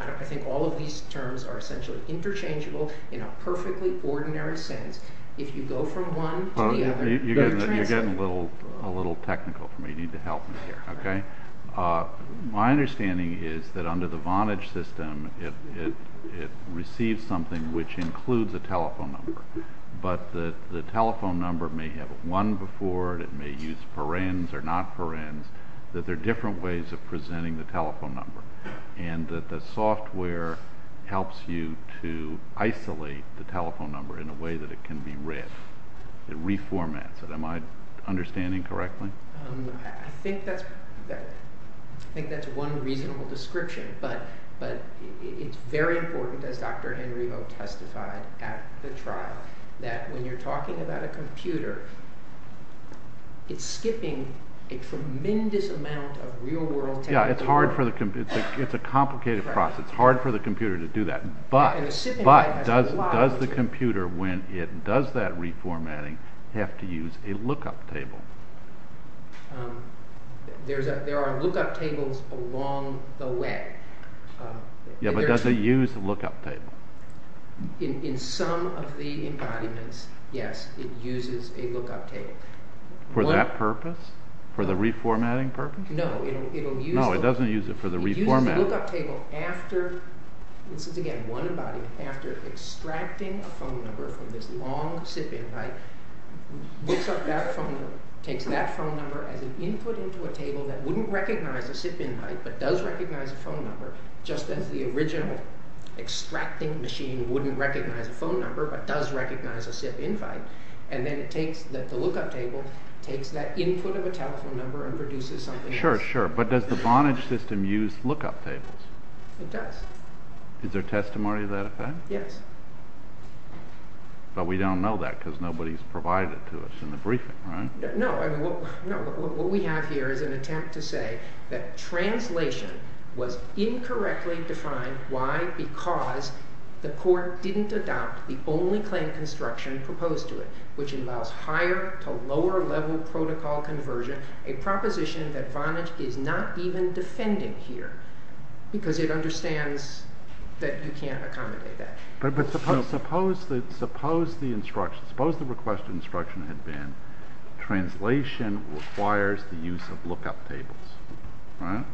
I think all of these terms are essentially interchangeable in a perfectly ordinary sense. If you go from one to the other... You're getting a little technical for me. You need to help me here, okay? My understanding is that under the Vonage system, it receives something which includes a telephone number, but the telephone number may have one before it. It may use parens or not parens. There are different ways of presenting the telephone number, and the software helps you to isolate the telephone number in a way that it can be read. It reformats it. Am I understanding correctly? I think that's one reasonable description, but it's very important, as Dr. Henrivo testified at the trial, that when you're talking about a computer, it's skipping a tremendous amount of real-world technical work. Yeah, it's a complicated process. It's hard for the computer to do that, but does the computer, when it does that reformatting, have to use a look-up table? There are look-up tables along the way. Yeah, but does it use a look-up table? In some of the environments, yes, it uses a look-up table. For that purpose? For the reformatting purpose? No, it doesn't use it for the reformatting. A look-up table, after extracting a phone number from this long SIP invite, picks up that phone number, takes that phone number, and then inputs it into a table that wouldn't recognize a SIP invite but does recognize a phone number, just as the original extracting machine wouldn't recognize a phone number but does recognize a SIP invite, and then the look-up table takes that input of a telephone number and produces something. Sure, sure, but does the bondage system use look-up tables? It does. Is there testimony to that effect? Yes. But we don't know that because nobody's provided to us in the briefing, right? No. What we have here is an attempt to say that translation was incorrectly defined. Why? Because the court didn't adopt the only claim construction proposed to it, which involves higher to lower level protocol conversion, a proposition that bondage did not even defend in here because it understands that you can't accommodate that. But suppose the instruction, suppose the requested instruction had been translation requires the use of look-up tables, right?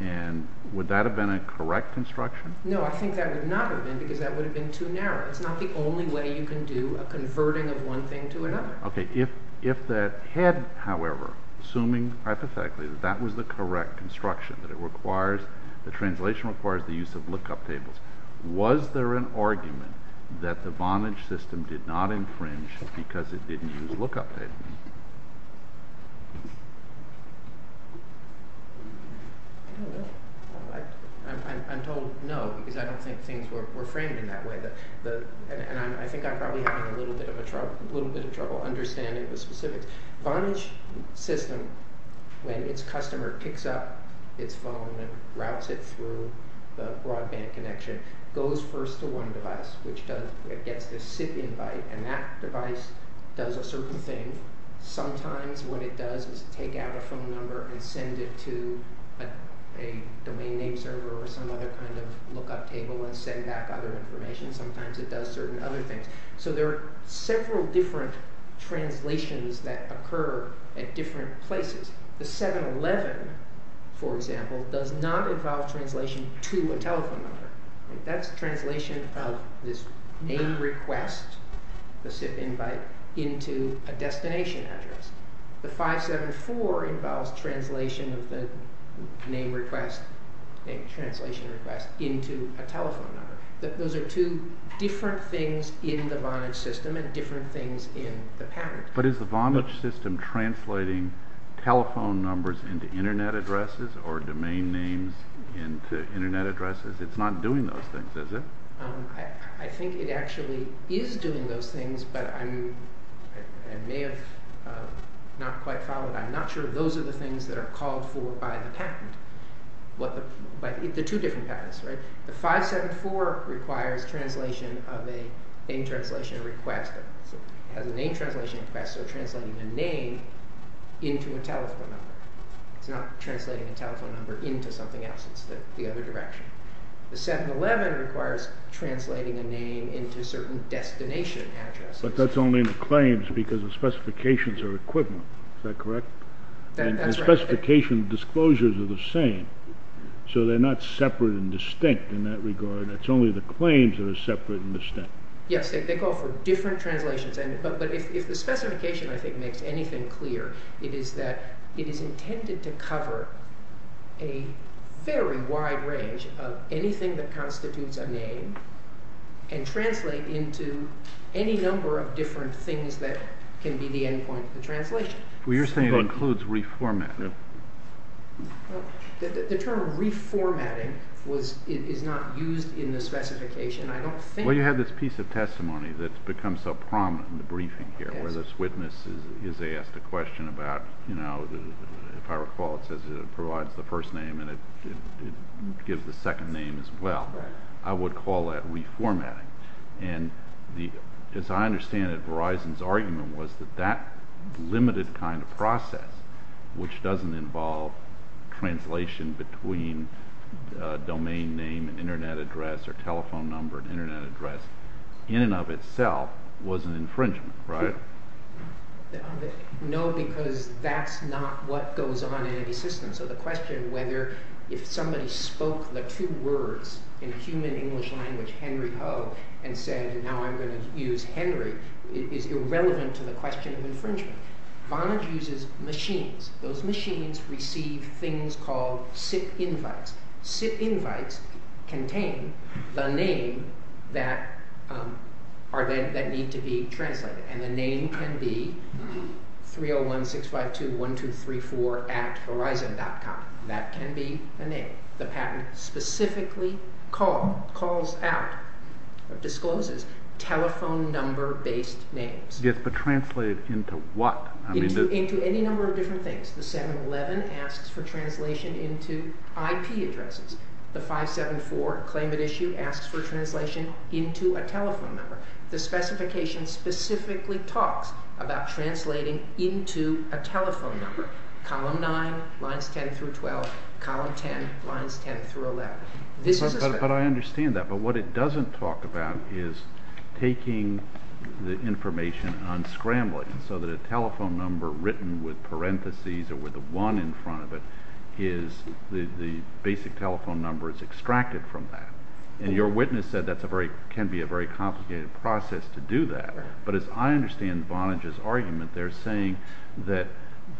And would that have been a correct instruction? No, I think that would not have been because that would have been too narrow. That's not the only way you can do a converting of one thing to another. Okay, if that had, however, assuming that was the correct instruction, that the translation requires the use of look-up tables, was there an argument that the bondage system did not infringe because it didn't use look-up tables? I'm told no because I don't think things were framed in that way. I think I'm probably having a little bit of trouble understanding the specifics. The bondage system, when its customer picks up its phone and routes it through the broadband connection, goes first to one device, which gets a SIP invite, and that device does a certain thing. Sometimes what it does is take out a phone number and send it to a domain name server or some other kind of look-up table and send out other information. Sometimes it does certain other things. So there are several different translations that occur at different places. The 711, for example, does not involve translation to a telephone number. That's translation of this main request, the SIP invite, into a destination address. The 574 involves translation of the main request, the translation request, into a telephone number. Those are two different things in the bondage system and different things in the pattern. But is the bondage system translating telephone numbers into Internet addresses or domain names into Internet addresses? It's not doing those things, is it? I think it actually is doing those things, but I may have not quite followed that. I'm not sure those are the things that are called for by the patent. But it's the two different patents, right? The 574 requires translation of a main translation request. It has a main translation request, so translating a name into a telephone number, not translating a telephone number into something else. It's the other direction. The 711 requires translating a name into a certain destination address. But that's only in the claims because the specifications are equivalent. Is that correct? The specification disclosures are the same, so they're not separate and distinct in that regard. It's only the claims that are separate and distinct. Yes, they go for different translations. But if the specification, I think, makes anything clear, it is that it is intended to cover a very wide range of anything that constitutes a name and translate into any number of different things that can be the endpoints of translation. You're saying it includes reformatting. The term reformatting is not used in the specification, I don't think. Well, you have this piece of testimony that's become so prominent in the briefing here where this witness is asked a question about, you know, if I recall it says it provides the first name and it gives the second name as well. I would call that reformatting. And as I understand it, Verizon's argument was that that limited kind of process, which doesn't involve translation between domain name and Internet address or telephone number and Internet address, in and of itself was an infringement. Right. No, because that's not what goes on in the system. So the question whether if somebody spoke the two words in human English language, Henry Ho, and said, now I'm going to use Henry, is irrelevant to the question of infringement. Vonage uses machines. Those machines receive things called SIP invites. SIP invites contain a name that needs to be translated, and the name can be 301-652-1234 at Verizon.com. That can be the name. The patent specifically calls out or discloses telephone number-based names. It's translated into what? Into any number of different things. The 711 asks for translation into IP addresses. The 574 claimant issue asks for translation into a telephone number. The specification specifically talks about translating into a telephone number. Column 9, lines 10 through 12. Column 10, lines 10 through 11. But I understand that, but what it doesn't talk about is taking the information unscrambling so that a telephone number written with parentheses or with a 1 in front of it is the basic telephone number is extracted from that. And your witness said that can be a very complicated process to do that. But as I understand Vonage's argument, they're saying that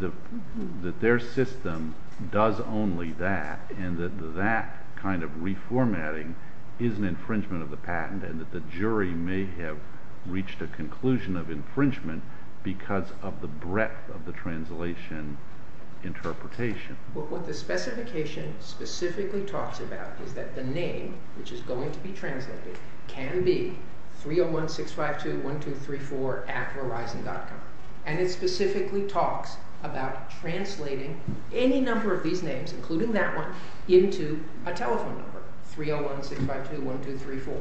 their system does only that, and that that kind of reformatting is an infringement of the patent and that the jury may have reached a conclusion of infringement because of the breadth of the translation interpretation. But what the specification specifically talks about is that the name, which is going to be translated, can be 301-652-1234 at Verizon.com. And it specifically talks about translating any number of these names, including that one, into a telephone number, 301-652-1234.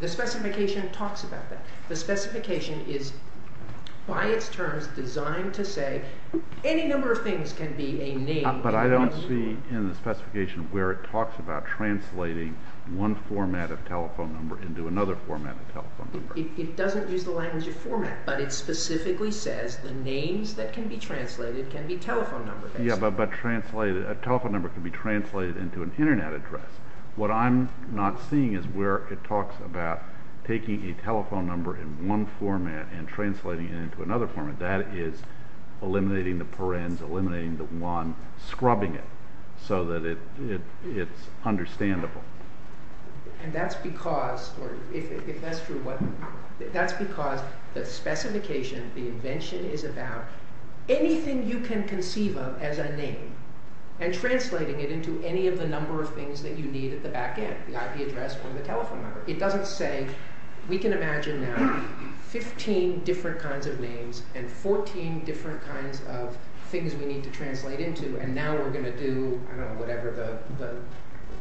The specification talks about that. The specification is, by its terms, designed to say any number of things can be a name. But I don't see in the specification where it talks about translating one format of telephone number into another format of telephone number. It doesn't use the language of format, but it specifically says the names that can be translated can be telephone number names. A telephone number can be translated into an Internet address. What I'm not seeing is where it talks about taking a telephone number in one format and translating it into another format. That is eliminating the parens, eliminating the one, scrubbing it, so that it's understandable. And that's because the specification, the invention, is about anything you can conceive of as a name and translating it into any of the number of things that you need at the back end, the IP address or the telephone number. It doesn't say, we can imagine now 15 different kinds of names and 14 different kinds of things we need to translate into, and now we're going to do whatever the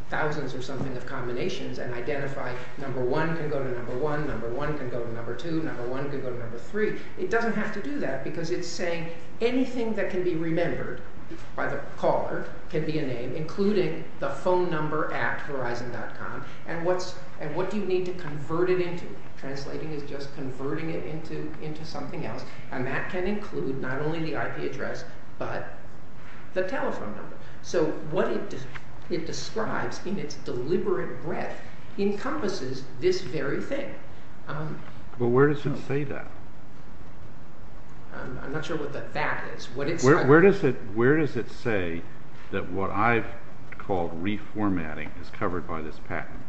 thousands or something of combinations and identify number one can go to number one, number one can go to number two, number one can go to number three. It doesn't have to do that because it's saying anything that can be remembered by the caller can be a name, including the phone number at Verizon.com, and what you need to convert it into. Translating is just converting it into something else, and that can include not only the IP address, but the telephone number. So what it describes in its deliberate way encompasses this very thing. But where does it say that? I'm not sure what the fact is. Where does it say that what I've called reformatting is covered by this patent?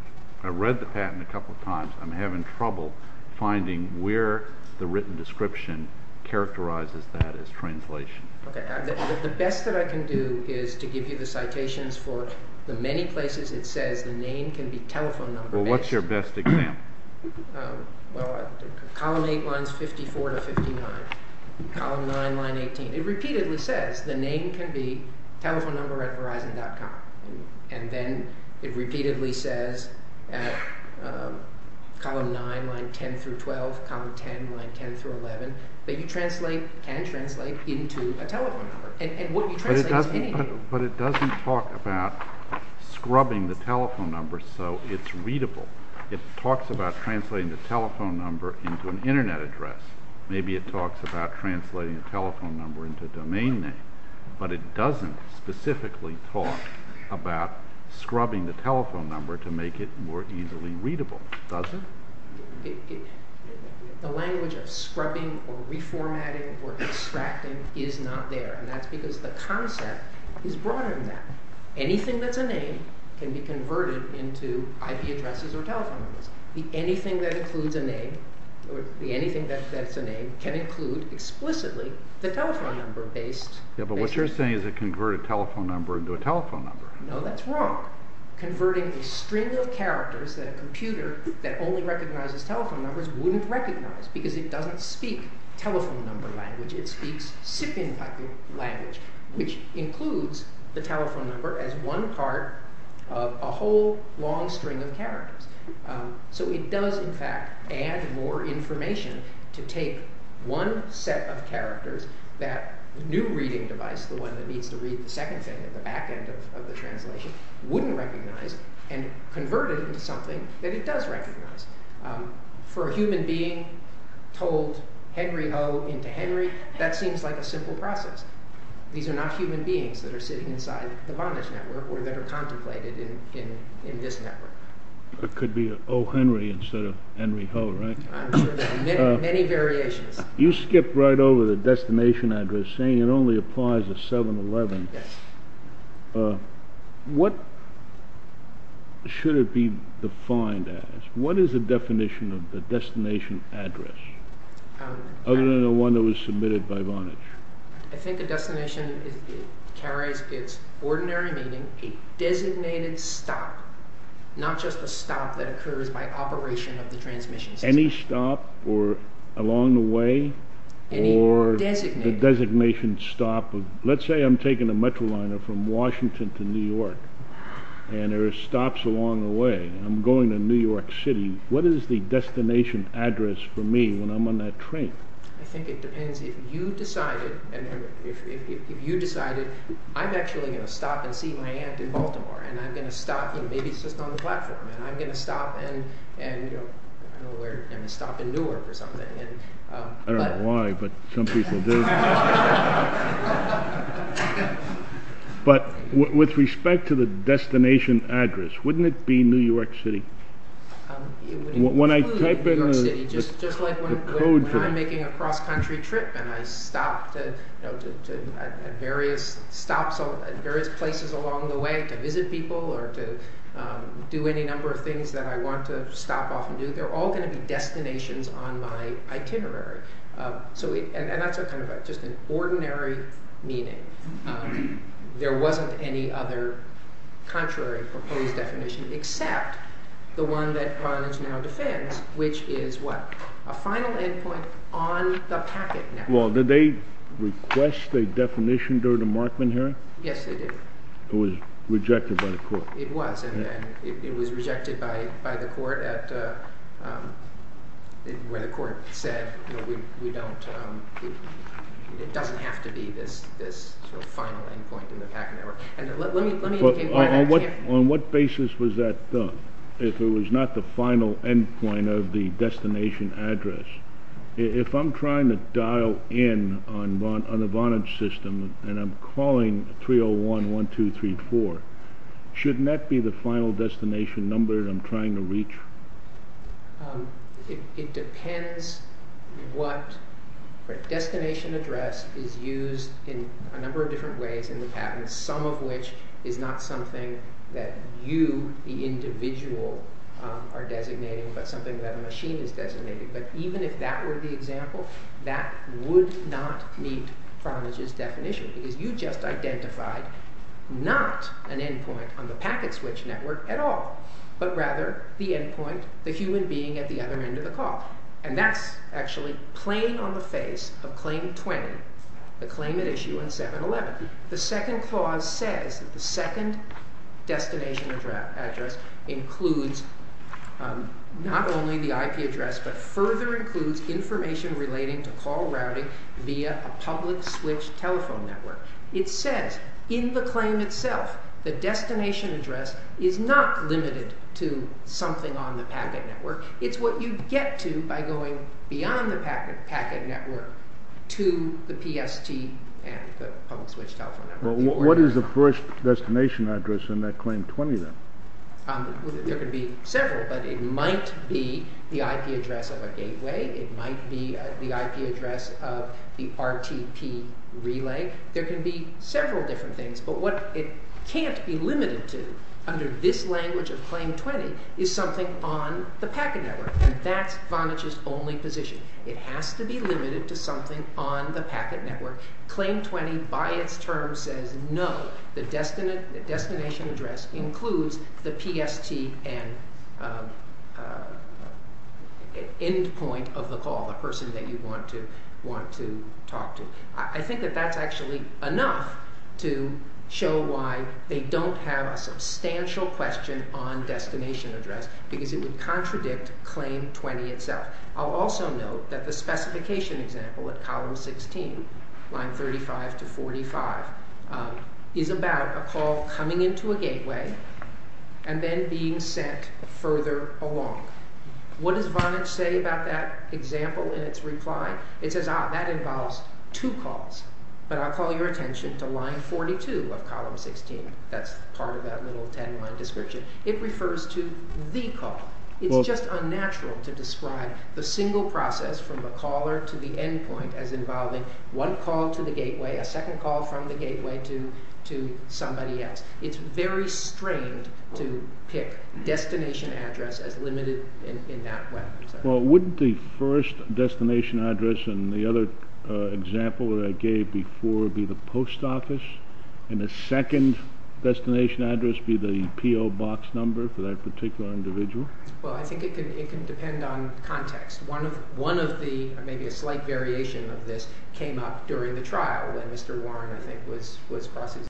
I've read the patent a couple of times. I'm having trouble finding where the written description characterizes that as translation. The best that I can do is to give you the citations for the many places it says the name can be telephone number. Well, what's your best example? Column 8, lines 54 to 59. Column 9, line 18. It repeatedly says the name can be telephone number at Verizon.com, and then it repeatedly says at column 9, line 10 through 12, column 10, line 10 through 11, that you translate and translate into a telephone number. But it doesn't talk about scrubbing the telephone number so it's readable. It talks about translating the telephone number into an Internet address. Maybe it talks about translating the telephone number into a domain name, but it doesn't specifically talk about scrubbing the telephone number to make it more easily readable, does it? The language of scrubbing or reformatting or extracting is not there, and that's because the concept is broader than that. Anything that's a name can be converted into IP addresses or telephone numbers. Anything that includes a name or anything that says it's a name can include explicitly the telephone number base. Yeah, but what you're saying is it can convert a telephone number into a telephone number. No, that's wrong. Converting a string of characters that a computer that only recognizes telephone numbers wouldn't recognize because it doesn't speak telephone number language. It speaks SIPIN-type language, which includes the telephone number as one part of a whole long string of characters. So it does, in fact, add more information to take one set of characters that a new reading device, the one that needs to read the second thing at the back end of the translation, wouldn't recognize and convert it into something that it does recognize. For a human being told Henry Ho into Henry, that seems like a simple process. These are not human beings that are sitting inside the bondage network or that are contemplated in this network. It could be O. Henry instead of Henry Ho, right? I'm sure there are many variations. You skipped right over the destination address saying it only applies to 7-Eleven. Yes. What should it be defined as? What is the definition of the destination address other than the one that was submitted by Vonage? I think the destination carries its ordinary meaning, a designated stop, not just a stop that occurs by operation of the transmission system. Any stop along the way or the designation stop? Let's say I'm taking the Metroliner from Washington to New York and there are stops along the way. I'm going to New York City. What is the destination address for me when I'm on that train? I think it depends. If you decided, I'm actually going to stop and see my aunt in Baltimore and I'm going to stop and maybe sit on the platform and I'm going to stop and stop in Newark or something. I don't know why, but some people do. But with respect to the destination address, wouldn't it be New York City? Just like when I'm making a cross-country trip and I stop at various places along the way to visit people or to do any number of things that I want to stop off and do, they're all going to be destinations on my itinerary. And that's just an ordinary meaning. There wasn't any other contrary proposed definition except the one that Barnes now defends, which is a final endpoint on the packet network. Well, did they request a definition during the Markman hearing? Yes, they did. It was rejected by the court. It was, and it was rejected by the court where the court said it doesn't have to be this final endpoint on the packet network. On what basis was that done? If it was not the final endpoint of the destination address? If I'm trying to dial in on the Vonage system and I'm calling 301-1234, shouldn't that be the final destination number that I'm trying to reach? It depends what destination address is used in a number of different ways in the patent, some of which is not something that you, the individual, are designating but something that a machine is designating. But even if that were the example, that would not meet Vonage's definition because you just identified not an endpoint on the packet switch network at all, but rather the endpoint, the human being at the other end of the call. And that's actually plain on the face of Claim 20, the claimant issue in 711. The second clause says that the second destination address includes not only the IP address but further includes information relating to Paul Rowdy via public switch telephone network. It says in the claim itself the destination address is not limited to something on the packet network. It's what you get to by going beyond the packet network to the PST and the public switch telephone network. What is the first destination address in that Claim 20, then? There could be several, but it might be the IP address of a gateway. It might be the IP address of the RTP relay. There can be several different things, but what it can't be limited to under this language of Claim 20 is something on the packet network, and that's Vonage's only position. It has to be limited to something on the packet network. Claim 20, by its term, says no, the destination address includes the PST and endpoint of the call, the person that you want to talk to. I think that that's actually enough to show why they don't have a substantial question on destination address because it would contradict Claim 20 itself. I'll also note that the specification example of Column 16, Line 35 to 45, is about a call coming into a gateway and then being sent further along. What does Vonage say about that example in its reply? It says, ah, that involves two calls, but I'll call your attention to Line 42 of Column 16. That's part of that little 10-line description. It refers to the call. It's just unnatural to describe the single process from the caller to the endpoint as involving one call to the gateway, a second call from the gateway to somebody else. It's very strange to pick destination address as limited in that way. Well, wouldn't the first destination address and the other example that I gave before be the post office and the second destination address be the PO box number for that particular individual? Well, I think it can depend on context. One of the, maybe a slight variation of this, came up during the trial that Mr. Warren, I think, was talking about.